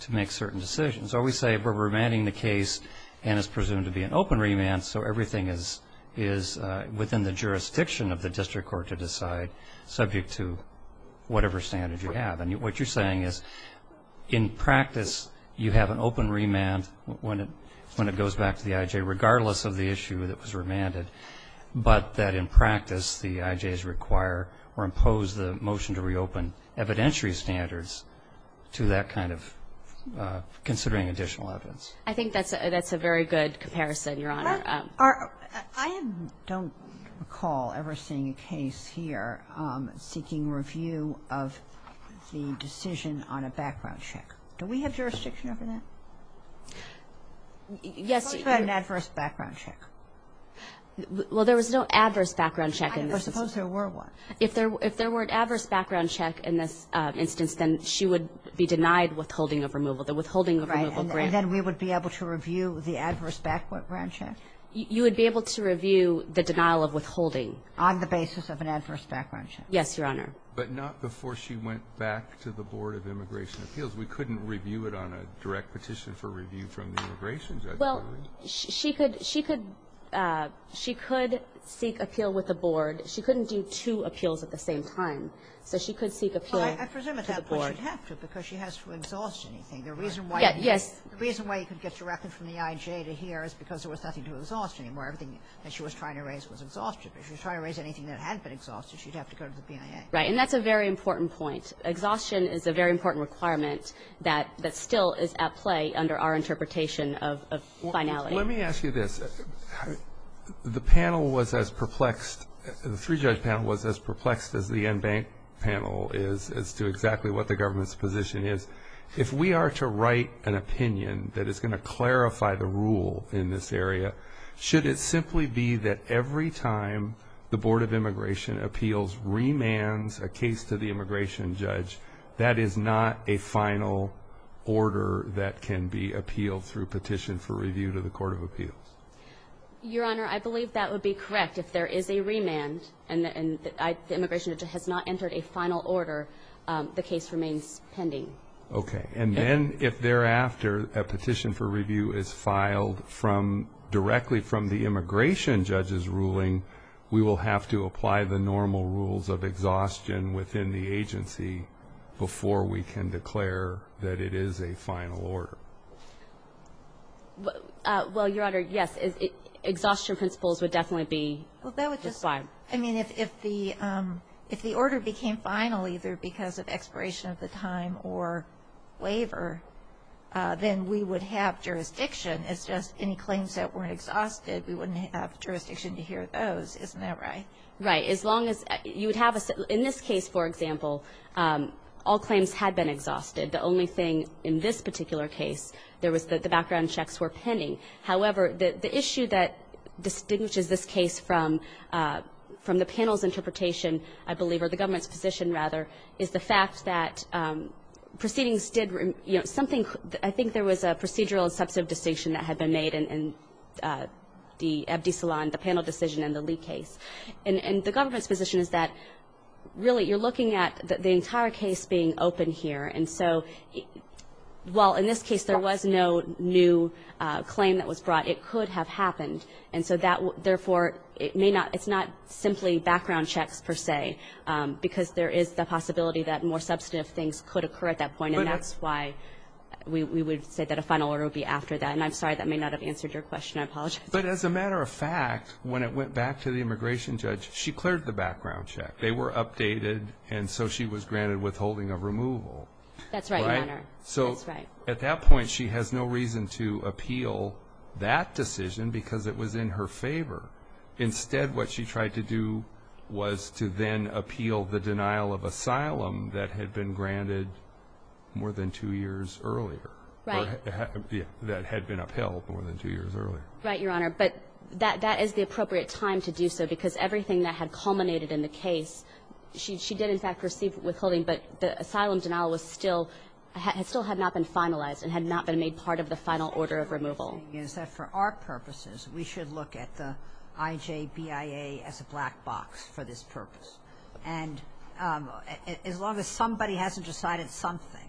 to make certain decisions. Or we say we're remanding the case and it's presumed to be an open remand, so everything is within the jurisdiction of the district court to decide, subject to whatever standard you have. And what you're saying is in practice you have an open remand when it goes back to the IJ, regardless of the issue that was remanded, but that in practice the IJs require or impose the motion to reopen evidentiary standards to that kind of considering additional evidence. I think that's a very good comparison, Your Honor. I don't recall ever seeing a case here seeking review of the decision on a background check. Do we have jurisdiction over that? Yes. What about an adverse background check? Well, there was no adverse background check in this instance. I suppose there were one. If there were an adverse background check in this instance, then she would be denied withholding of removal, the withholding of removal grant. Right, and then we would be able to review the adverse background check? You would be able to review the denial of withholding. On the basis of an adverse background check? Yes, Your Honor. But not before she went back to the Board of Immigration Appeals. We couldn't review it on a direct petition for review from the Immigration Appeals Committee. Well, she could seek appeal with the Board. She couldn't do two appeals at the same time. So she could seek appeal to the Board. Well, I presume at that point she'd have to because she has to exhaust anything. The reason why you could get directly from the IJ to here is because there was nothing to exhaust anymore. Everything that she was trying to raise was exhausted. If she was trying to raise anything that hadn't been exhausted, she'd have to go to the BIA. Right. And that's a very important point. Exhaustion is a very important requirement that still is at play under our interpretation of finality. Let me ask you this. The panel was as perplexed, the three-judge panel was as perplexed as the Enbank panel is as to exactly what the government's position is. If we are to write an opinion that is going to clarify the rule in this area, should it simply be that every time the Board of Immigration Appeals remands a case to the immigration judge, that is not a final order that can be appealed through petition for review to the Court of Appeals? Your Honor, I believe that would be correct. If there is a remand and the immigration judge has not entered a final order, the case remains pending. Okay. And then if thereafter a petition for review is filed directly from the immigration judge's before we can declare that it is a final order? Well, Your Honor, yes. Exhaustion principles would definitely be required. I mean, if the order became final either because of expiration of the time or waiver, then we would have jurisdiction. It's just any claims that weren't exhausted, we wouldn't have jurisdiction to hear those. Isn't that right? Right. In this case, for example, all claims had been exhausted. The only thing in this particular case, there was the background checks were pending. However, the issue that distinguishes this case from the panel's interpretation, I believe, or the government's position, rather, is the fact that proceedings did, you know, something that I think there was a procedural and substantive distinction that had been made in the panel decision and the Lee case. And the government's position is that really you're looking at the entire case being open here. And so while in this case there was no new claim that was brought, it could have happened. And so therefore, it's not simply background checks per se because there is the possibility that more substantive things could occur at that point. And that's why we would say that a final order would be after that. And I'm sorry that may not have answered your question. I apologize. But as a matter of fact, when it went back to the immigration judge, she cleared the background check. They were updated. And so she was granted withholding of removal. That's right, Your Honor. That's right. So at that point, she has no reason to appeal that decision because it was in her favor. Instead, what she tried to do was to then appeal the denial of asylum that had been granted more than two years earlier. Right. That had been upheld more than two years earlier. Right, Your Honor. But that is the appropriate time to do so because everything that had culminated in the case, she did in fact receive withholding, but the asylum denial was still had still had not been finalized and had not been made part of the final order of removal. What I'm saying is that for our purposes, we should look at the IJBIA as a black box for this purpose. And as long as somebody hasn't decided something,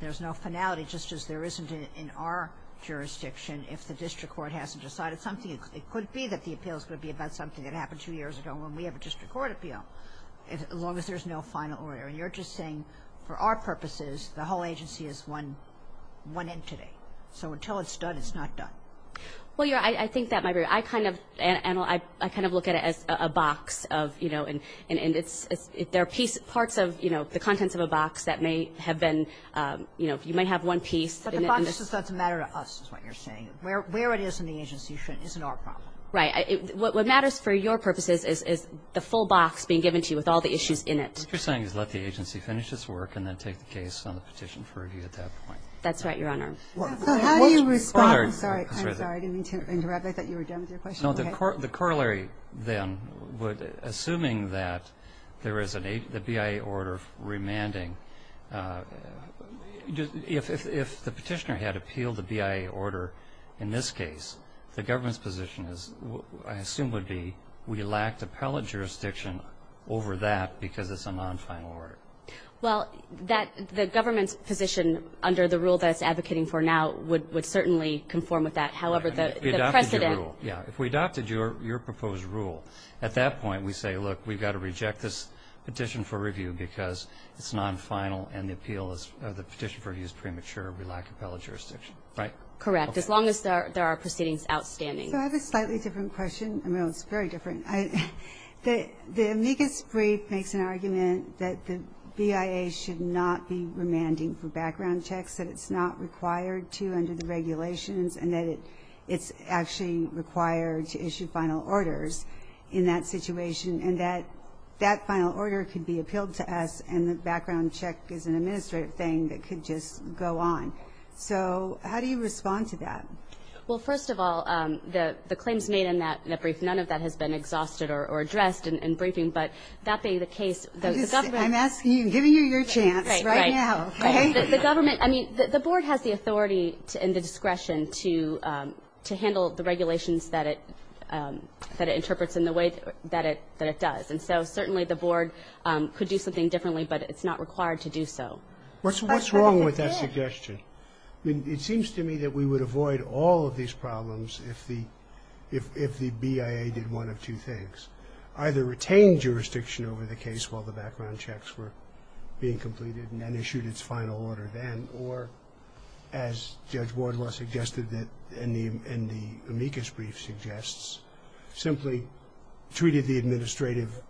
there's no finality, just as there isn't in our jurisdiction. If the district court hasn't decided something, it could be that the appeal is going to be about something that happened two years ago when we have a district court appeal, as long as there's no final order. And you're just saying for our purposes, the whole agency is one entity. So until it's done, it's not done. Well, Your Honor, I think that might be right. I kind of look at it as a box of, you know, and there are parts of, you know, the contents of a box that may have been, you know, you might have one piece in it. But the box doesn't matter to us, is what you're saying. Where it is in the agency isn't our problem. Right. What matters for your purposes is the full box being given to you with all the issues in it. What you're saying is let the agency finish its work and then take the case on the petition for review at that point. That's right, Your Honor. How do you respond? I'm sorry. I didn't mean to interrupt. I thought you were done with your question. The corollary then would, assuming that there is a BIA order remanding, if the petition had appealed the BIA order in this case, the government's position is, I assume would be, we lacked appellate jurisdiction over that because it's a non-final order. Well, the government's position under the rule that it's advocating for now would certainly conform with that. However, the precedent. If we adopted your rule, yeah, if we adopted your proposed rule, at that point we say, look, we've got to reject this petition for review because it's non-final and the appeal is the petition for review is premature. We lack appellate jurisdiction. Right? Correct. As long as there are proceedings outstanding. So I have a slightly different question. I mean, it's very different. The amicus brief makes an argument that the BIA should not be remanding for background checks, that it's not required to under the regulations and that it's actually required to issue final orders in that situation and that that final order could be appealed to us and the background check is an administrative thing that could just go on. So how do you respond to that? Well, first of all, the claims made in that brief, none of that has been exhausted or addressed in briefing, but that being the case, the government. I'm asking you, giving you your chance right now. Right. The government, I mean, the board has the authority and the discretion to handle the regulations that it interprets in the way that it does. And so certainly the board could do something differently, but it's not required to do so. What's wrong with that suggestion? I mean, it seems to me that we would avoid all of these problems if the BIA did one of two things, either retain jurisdiction over the case while the background checks were being completed and issued its final order then, or as Judge Wardlaw suggested and the amicus brief suggests, simply treated the administrative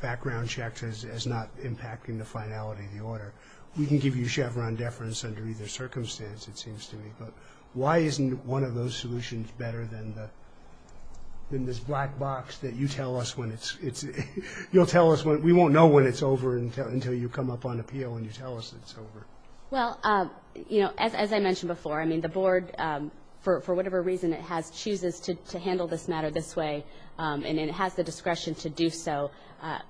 background checks as not impacting the finality of the order. We can give you Chevron deference under either circumstance, it seems to me, but why isn't one of those solutions better than this black box that you tell us when it's, you'll tell us when, we won't know when it's over until you come up on appeal and you tell us it's over. Well, you know, as I mentioned before, I mean, the board, for whatever reason it has, chooses to handle this matter this way, and it has the discretion to do so.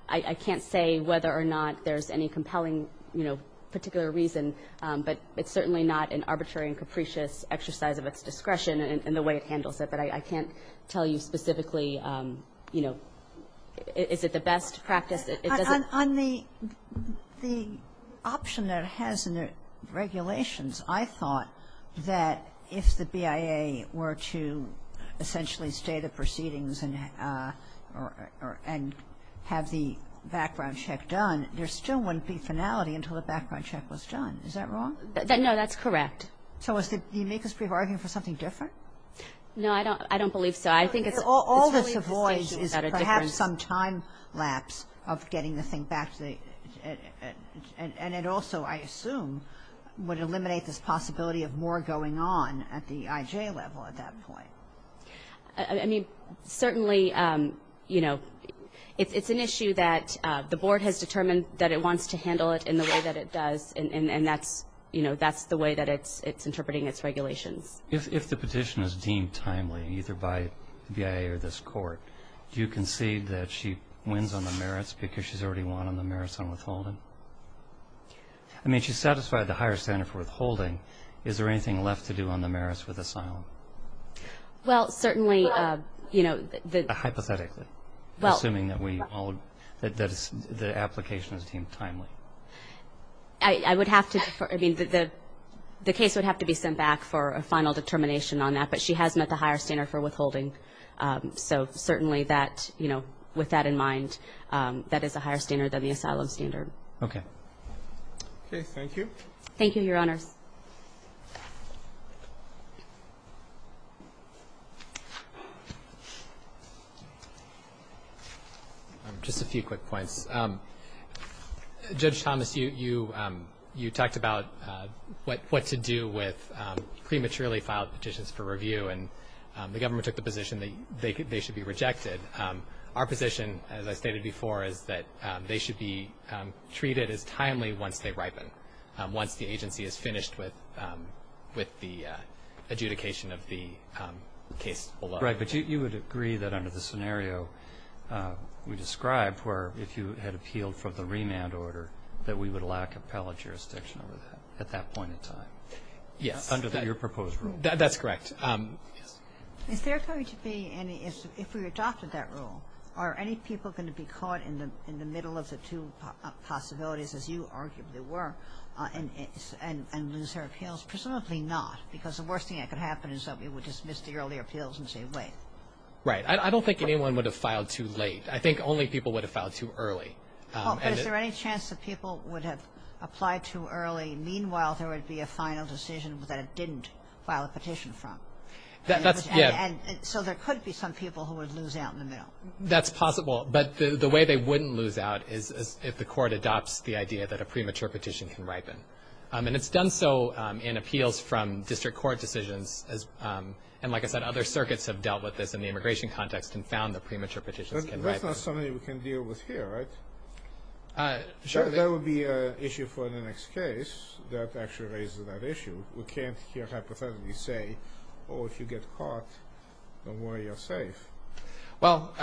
I can't say whether or not there's any compelling, you know, particular reason, but it's certainly not an arbitrary and capricious exercise of its discretion in the way it handles it. But I can't tell you specifically, you know, is it the best practice. On the option that it has in the regulations, I thought that if the BIA were to essentially stay the proceedings and have the background check done, there still wouldn't be finality until the background check was done. Is that wrong? No, that's correct. So is the amicus brief arguing for something different? No, I don't believe so. All this avoids is perhaps some time lapse of getting the thing back, and it also, I assume, would eliminate this possibility of more going on at the IJ level at that point. I mean, certainly, you know, it's an issue that the board has determined that it wants to handle it in the way that it does, and that's the way that it's interpreting its regulations. If the petition is deemed timely, either by the BIA or this court, do you concede that she wins on the merits because she's already won on the merits on withholding? I mean, she's satisfied the higher standard for withholding. Is there anything left to do on the merits with asylum? Well, certainly, you know. Hypothetically, assuming that the application is deemed timely. I would have to defer. I mean, the case would have to be sent back for a final determination on that, but she has met the higher standard for withholding. So certainly that, you know, with that in mind, that is a higher standard than the asylum standard. Okay. Okay, thank you. Thank you, Your Honors. Just a few quick points. Judge Thomas, you talked about what to do with prematurely filed petitions for review, and the government took the position that they should be rejected. Our position, as I stated before, is that they should be treated as timely once they ripen, once the agency is finished with the adjudication of the case below. Right, but you would agree that under the scenario we described, where if you had appealed for the remand order, that we would lack appellate jurisdiction over that at that point in time? Yes. Under your proposed rule? That's correct. Is there going to be any, if we adopted that rule, are any people going to be caught in the middle of the two possibilities, as you arguably were, and lose their appeals? Presumably not, because the worst thing that could happen is that we would dismiss the early appeals and say, wait. Right. I don't think anyone would have filed too late. I think only people would have filed too early. But is there any chance that people would have applied too early, meanwhile there would be a final decision that it didn't file a petition from? Yeah. So there could be some people who would lose out in the middle. That's possible, but the way they wouldn't lose out is if the court adopts the idea that a premature petition can ripen. And it's done so in appeals from district court decisions, and like I said, other circuits have dealt with this in the immigration context and found that premature petitions can ripen. That's not something we can deal with here, right? Sure. That would be an issue for the next case that actually raises that issue. We can't here hypothetically say, oh, if you get caught, don't worry, you're safe. Well.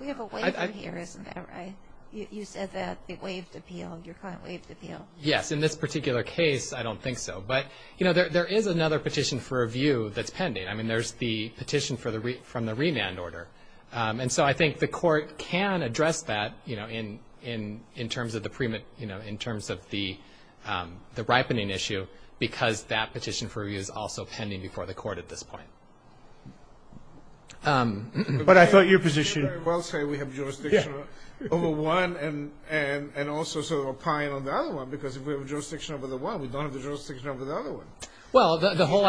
We have a waiver here, isn't that right? You said that the waived appeal, your final waived appeal. Yes. In this particular case, I don't think so. But, you know, there is another petition for review that's pending. I mean, there's the petition from the remand order. And so I think the court can address that, you know, in terms of the ripening issue because that petition for review is also pending before the court at this point. But I thought your position. Well, say we have jurisdiction over one and also sort of opine on the other one because if we have jurisdiction over the one, we don't have jurisdiction over the other one. Well, the whole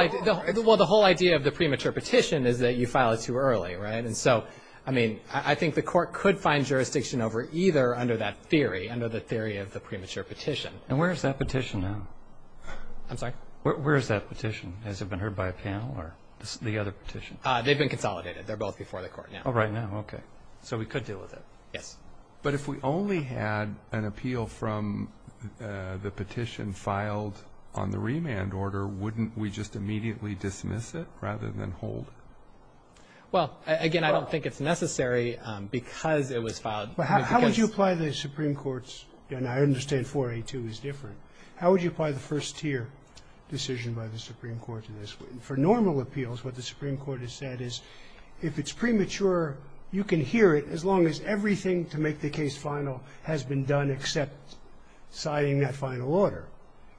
idea of the premature petition is that you file it too early, right? And so, I mean, I think the court could find jurisdiction over either under that theory, under the theory of the premature petition. And where is that petition now? I'm sorry? Where is that petition? Has it been heard by a panel or the other petition? They've been consolidated. They're both before the court now. Oh, right now. Okay. So we could deal with it. Yes. But if we only had an appeal from the petition filed on the remand order, wouldn't we just immediately dismiss it rather than hold it? Well, again, I don't think it's necessary because it was filed. How would you apply the Supreme Court's, and I understand 482 is different, how would you apply the first tier decision by the Supreme Court to this? For normal appeals, what the Supreme Court has said is if it's premature, you can hear it as long as everything to make the case final has been done except citing that final order.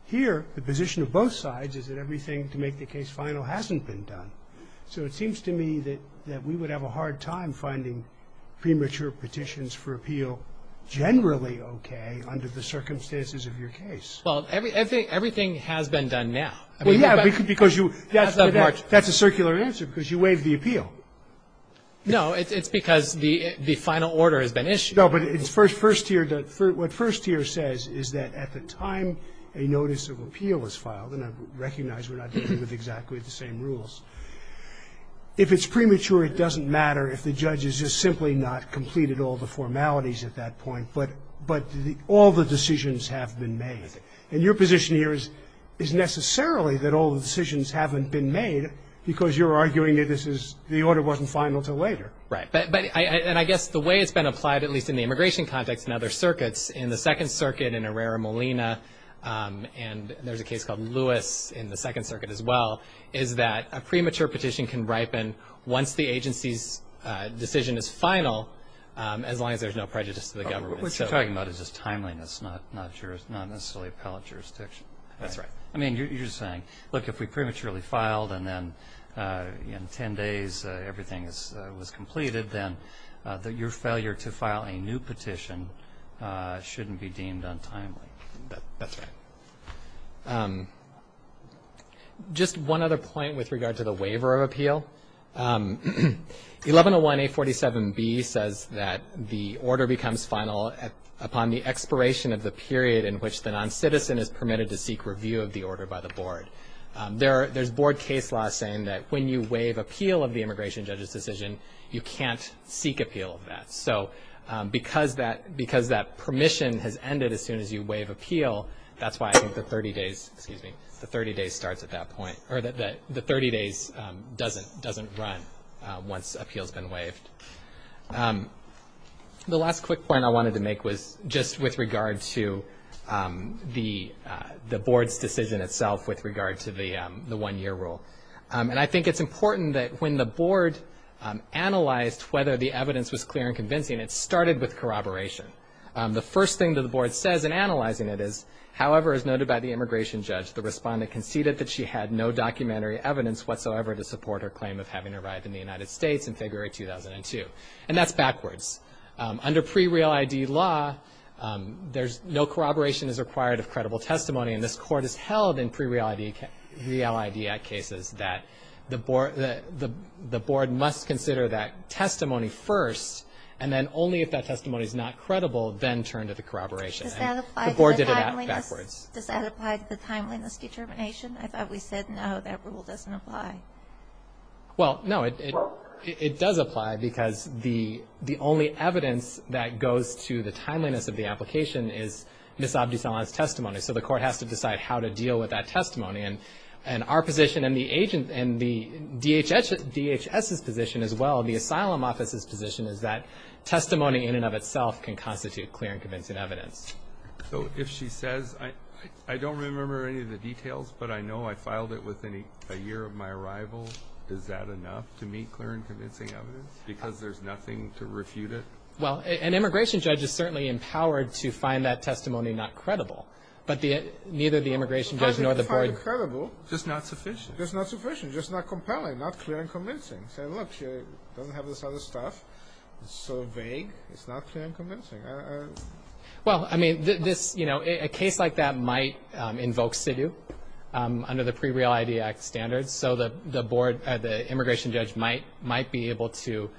Here, the position of both sides is that everything to make the case final hasn't been done. So it seems to me that we would have a hard time finding premature petitions for appeal generally okay under the circumstances of your case. Well, everything has been done now. Well, yeah, because you – that's a circular answer because you waived the appeal. No. It's because the final order has been issued. No, but it's first tier. What first tier says is that at the time a notice of appeal was filed, and I recognize we're not dealing with exactly the same rules, if it's premature, it doesn't matter if the judge has just simply not completed all the formalities at that point, but all the decisions have been made. And your position here is necessarily that all the decisions haven't been made because you're arguing that this is – the order wasn't final until later. Right. And I guess the way it's been applied, at least in the immigration context and other circuits, in the Second Circuit, in Herrera-Molina, and there's a case called Lewis in the Second Circuit as well, is that a premature petition can ripen once the agency's decision is final as long as there's no prejudice to the government. What you're talking about is just timeliness, not necessarily appellate jurisdiction. That's right. I mean, you're saying, look, if we prematurely filed and then in 10 days everything was completed, then your failure to file a new petition shouldn't be deemed untimely. That's right. Just one other point with regard to the waiver of appeal. 1101A47B says that the order becomes final upon the expiration of the period in which the noncitizen is permitted to seek review of the order by the board. There's board case law saying that when you waive appeal of the immigration judge's decision, you can't seek appeal of that. So because that permission has ended as soon as you waive appeal, that's why I think the 30 days – excuse me – the 30 days starts at that point – or the 30 days doesn't run once appeal's been waived. The last quick point I wanted to make was just with regard to the board's decision itself with regard to the one-year rule. And I think it's important that when the board analyzed whether the evidence was clear and convincing, it started with corroboration. The first thing that the board says in analyzing it is, however, as noted by the immigration judge, the respondent conceded that she had no documentary evidence whatsoever to support her claim of having arrived in the United States in February 2002. And that's backwards. Under pre-Real ID law, there's – no corroboration is required of credible testimony. And this court has held in pre-Real ID – Real ID Act cases that the board must consider that testimony first, and then only if that testimony is not credible, then turn to the corroboration. And the board did it backwards. Does that apply to the timeliness determination? I thought we said no, that rule doesn't apply. Well, no, it does apply, because the only evidence that goes to the timeliness of the application is Ms. Abdusalam's testimony. So the court has to decide how to deal with that testimony. And our position and the agent – and the DHS's position as well, the asylum office's position, is that testimony in and of itself can constitute clear and convincing evidence. So if she says, I don't remember any of the details, but I know I filed it within a year of my arrival, is that enough to meet clear and convincing evidence, because there's nothing to refute it? Well, an immigration judge is certainly empowered to find that testimony not credible. But neither the immigration judge nor the board – Not to find it credible. Just not sufficient. Just not sufficient. Just not compelling. Not clear and convincing. Say, look, she doesn't have this other stuff. It's so vague, it's not clear and convincing. Well, I mean, this – you know, a case like that might invoke SIDU under the pre-Real I.D. Act standards. So the board – the immigration judge might be able to,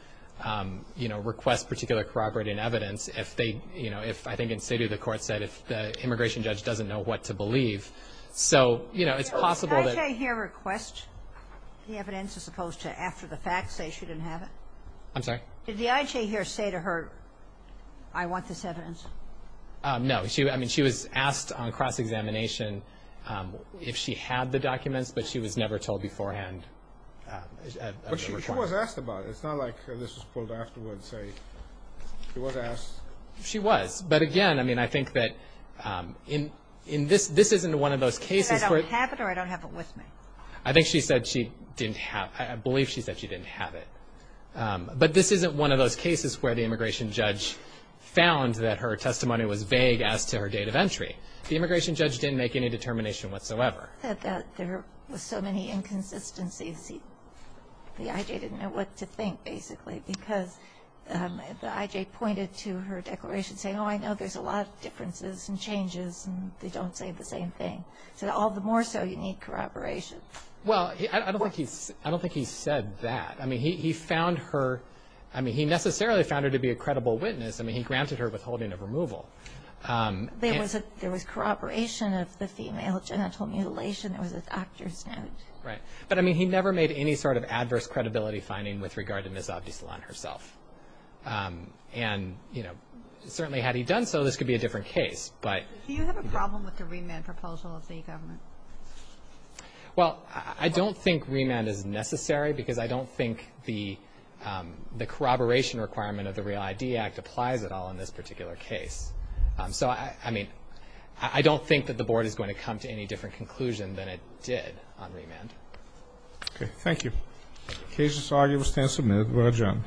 you know, request particular corroborating evidence if they – you know, if – I think in SIDU the court said if the immigration judge doesn't know what to believe. So, you know, it's possible that – Did the IJ here request the evidence as opposed to after the facts say she didn't have it? Did the IJ here say to her, I want this evidence? No. I mean, she was asked on cross-examination if she had the documents, but she was never told beforehand. But she was asked about it. It's not like this was pulled afterwards. Say, she was asked. She was. But again, I mean, I think that in this – this isn't one of those cases where Should I don't have it or I don't have it with me? I think she said she didn't have – I believe she said she didn't have it. But this isn't one of those cases where the immigration judge found that her testimony was vague as to her date of entry. The immigration judge didn't make any determination whatsoever. That there were so many inconsistencies, the IJ didn't know what to think, basically, because the IJ pointed to her declaration saying, oh, I know there's a lot of differences and changes, and they don't say the same thing. Said all the more so, you need corroboration. Well, I don't think he – I don't think he said that. I mean, he found her – I mean, he necessarily found her to be a credible witness. I mean, he granted her withholding of removal. There was a – there was corroboration of the female genital mutilation. There was an actor's note. Right. But, I mean, he never made any sort of adverse credibility finding with regard to Ms. Avdislan herself. And, you know, certainly had he done so, this could be a different case. But – Do you have a problem with the remand proposal of the government? Well, I don't think remand is necessary because I don't think the corroboration requirement of the Real ID Act applies at all in this particular case. So, I mean, I don't think that the board is going to come to any different conclusion than it did on remand. Okay. Thank you. Cases argued, stand submitted. We're adjourned.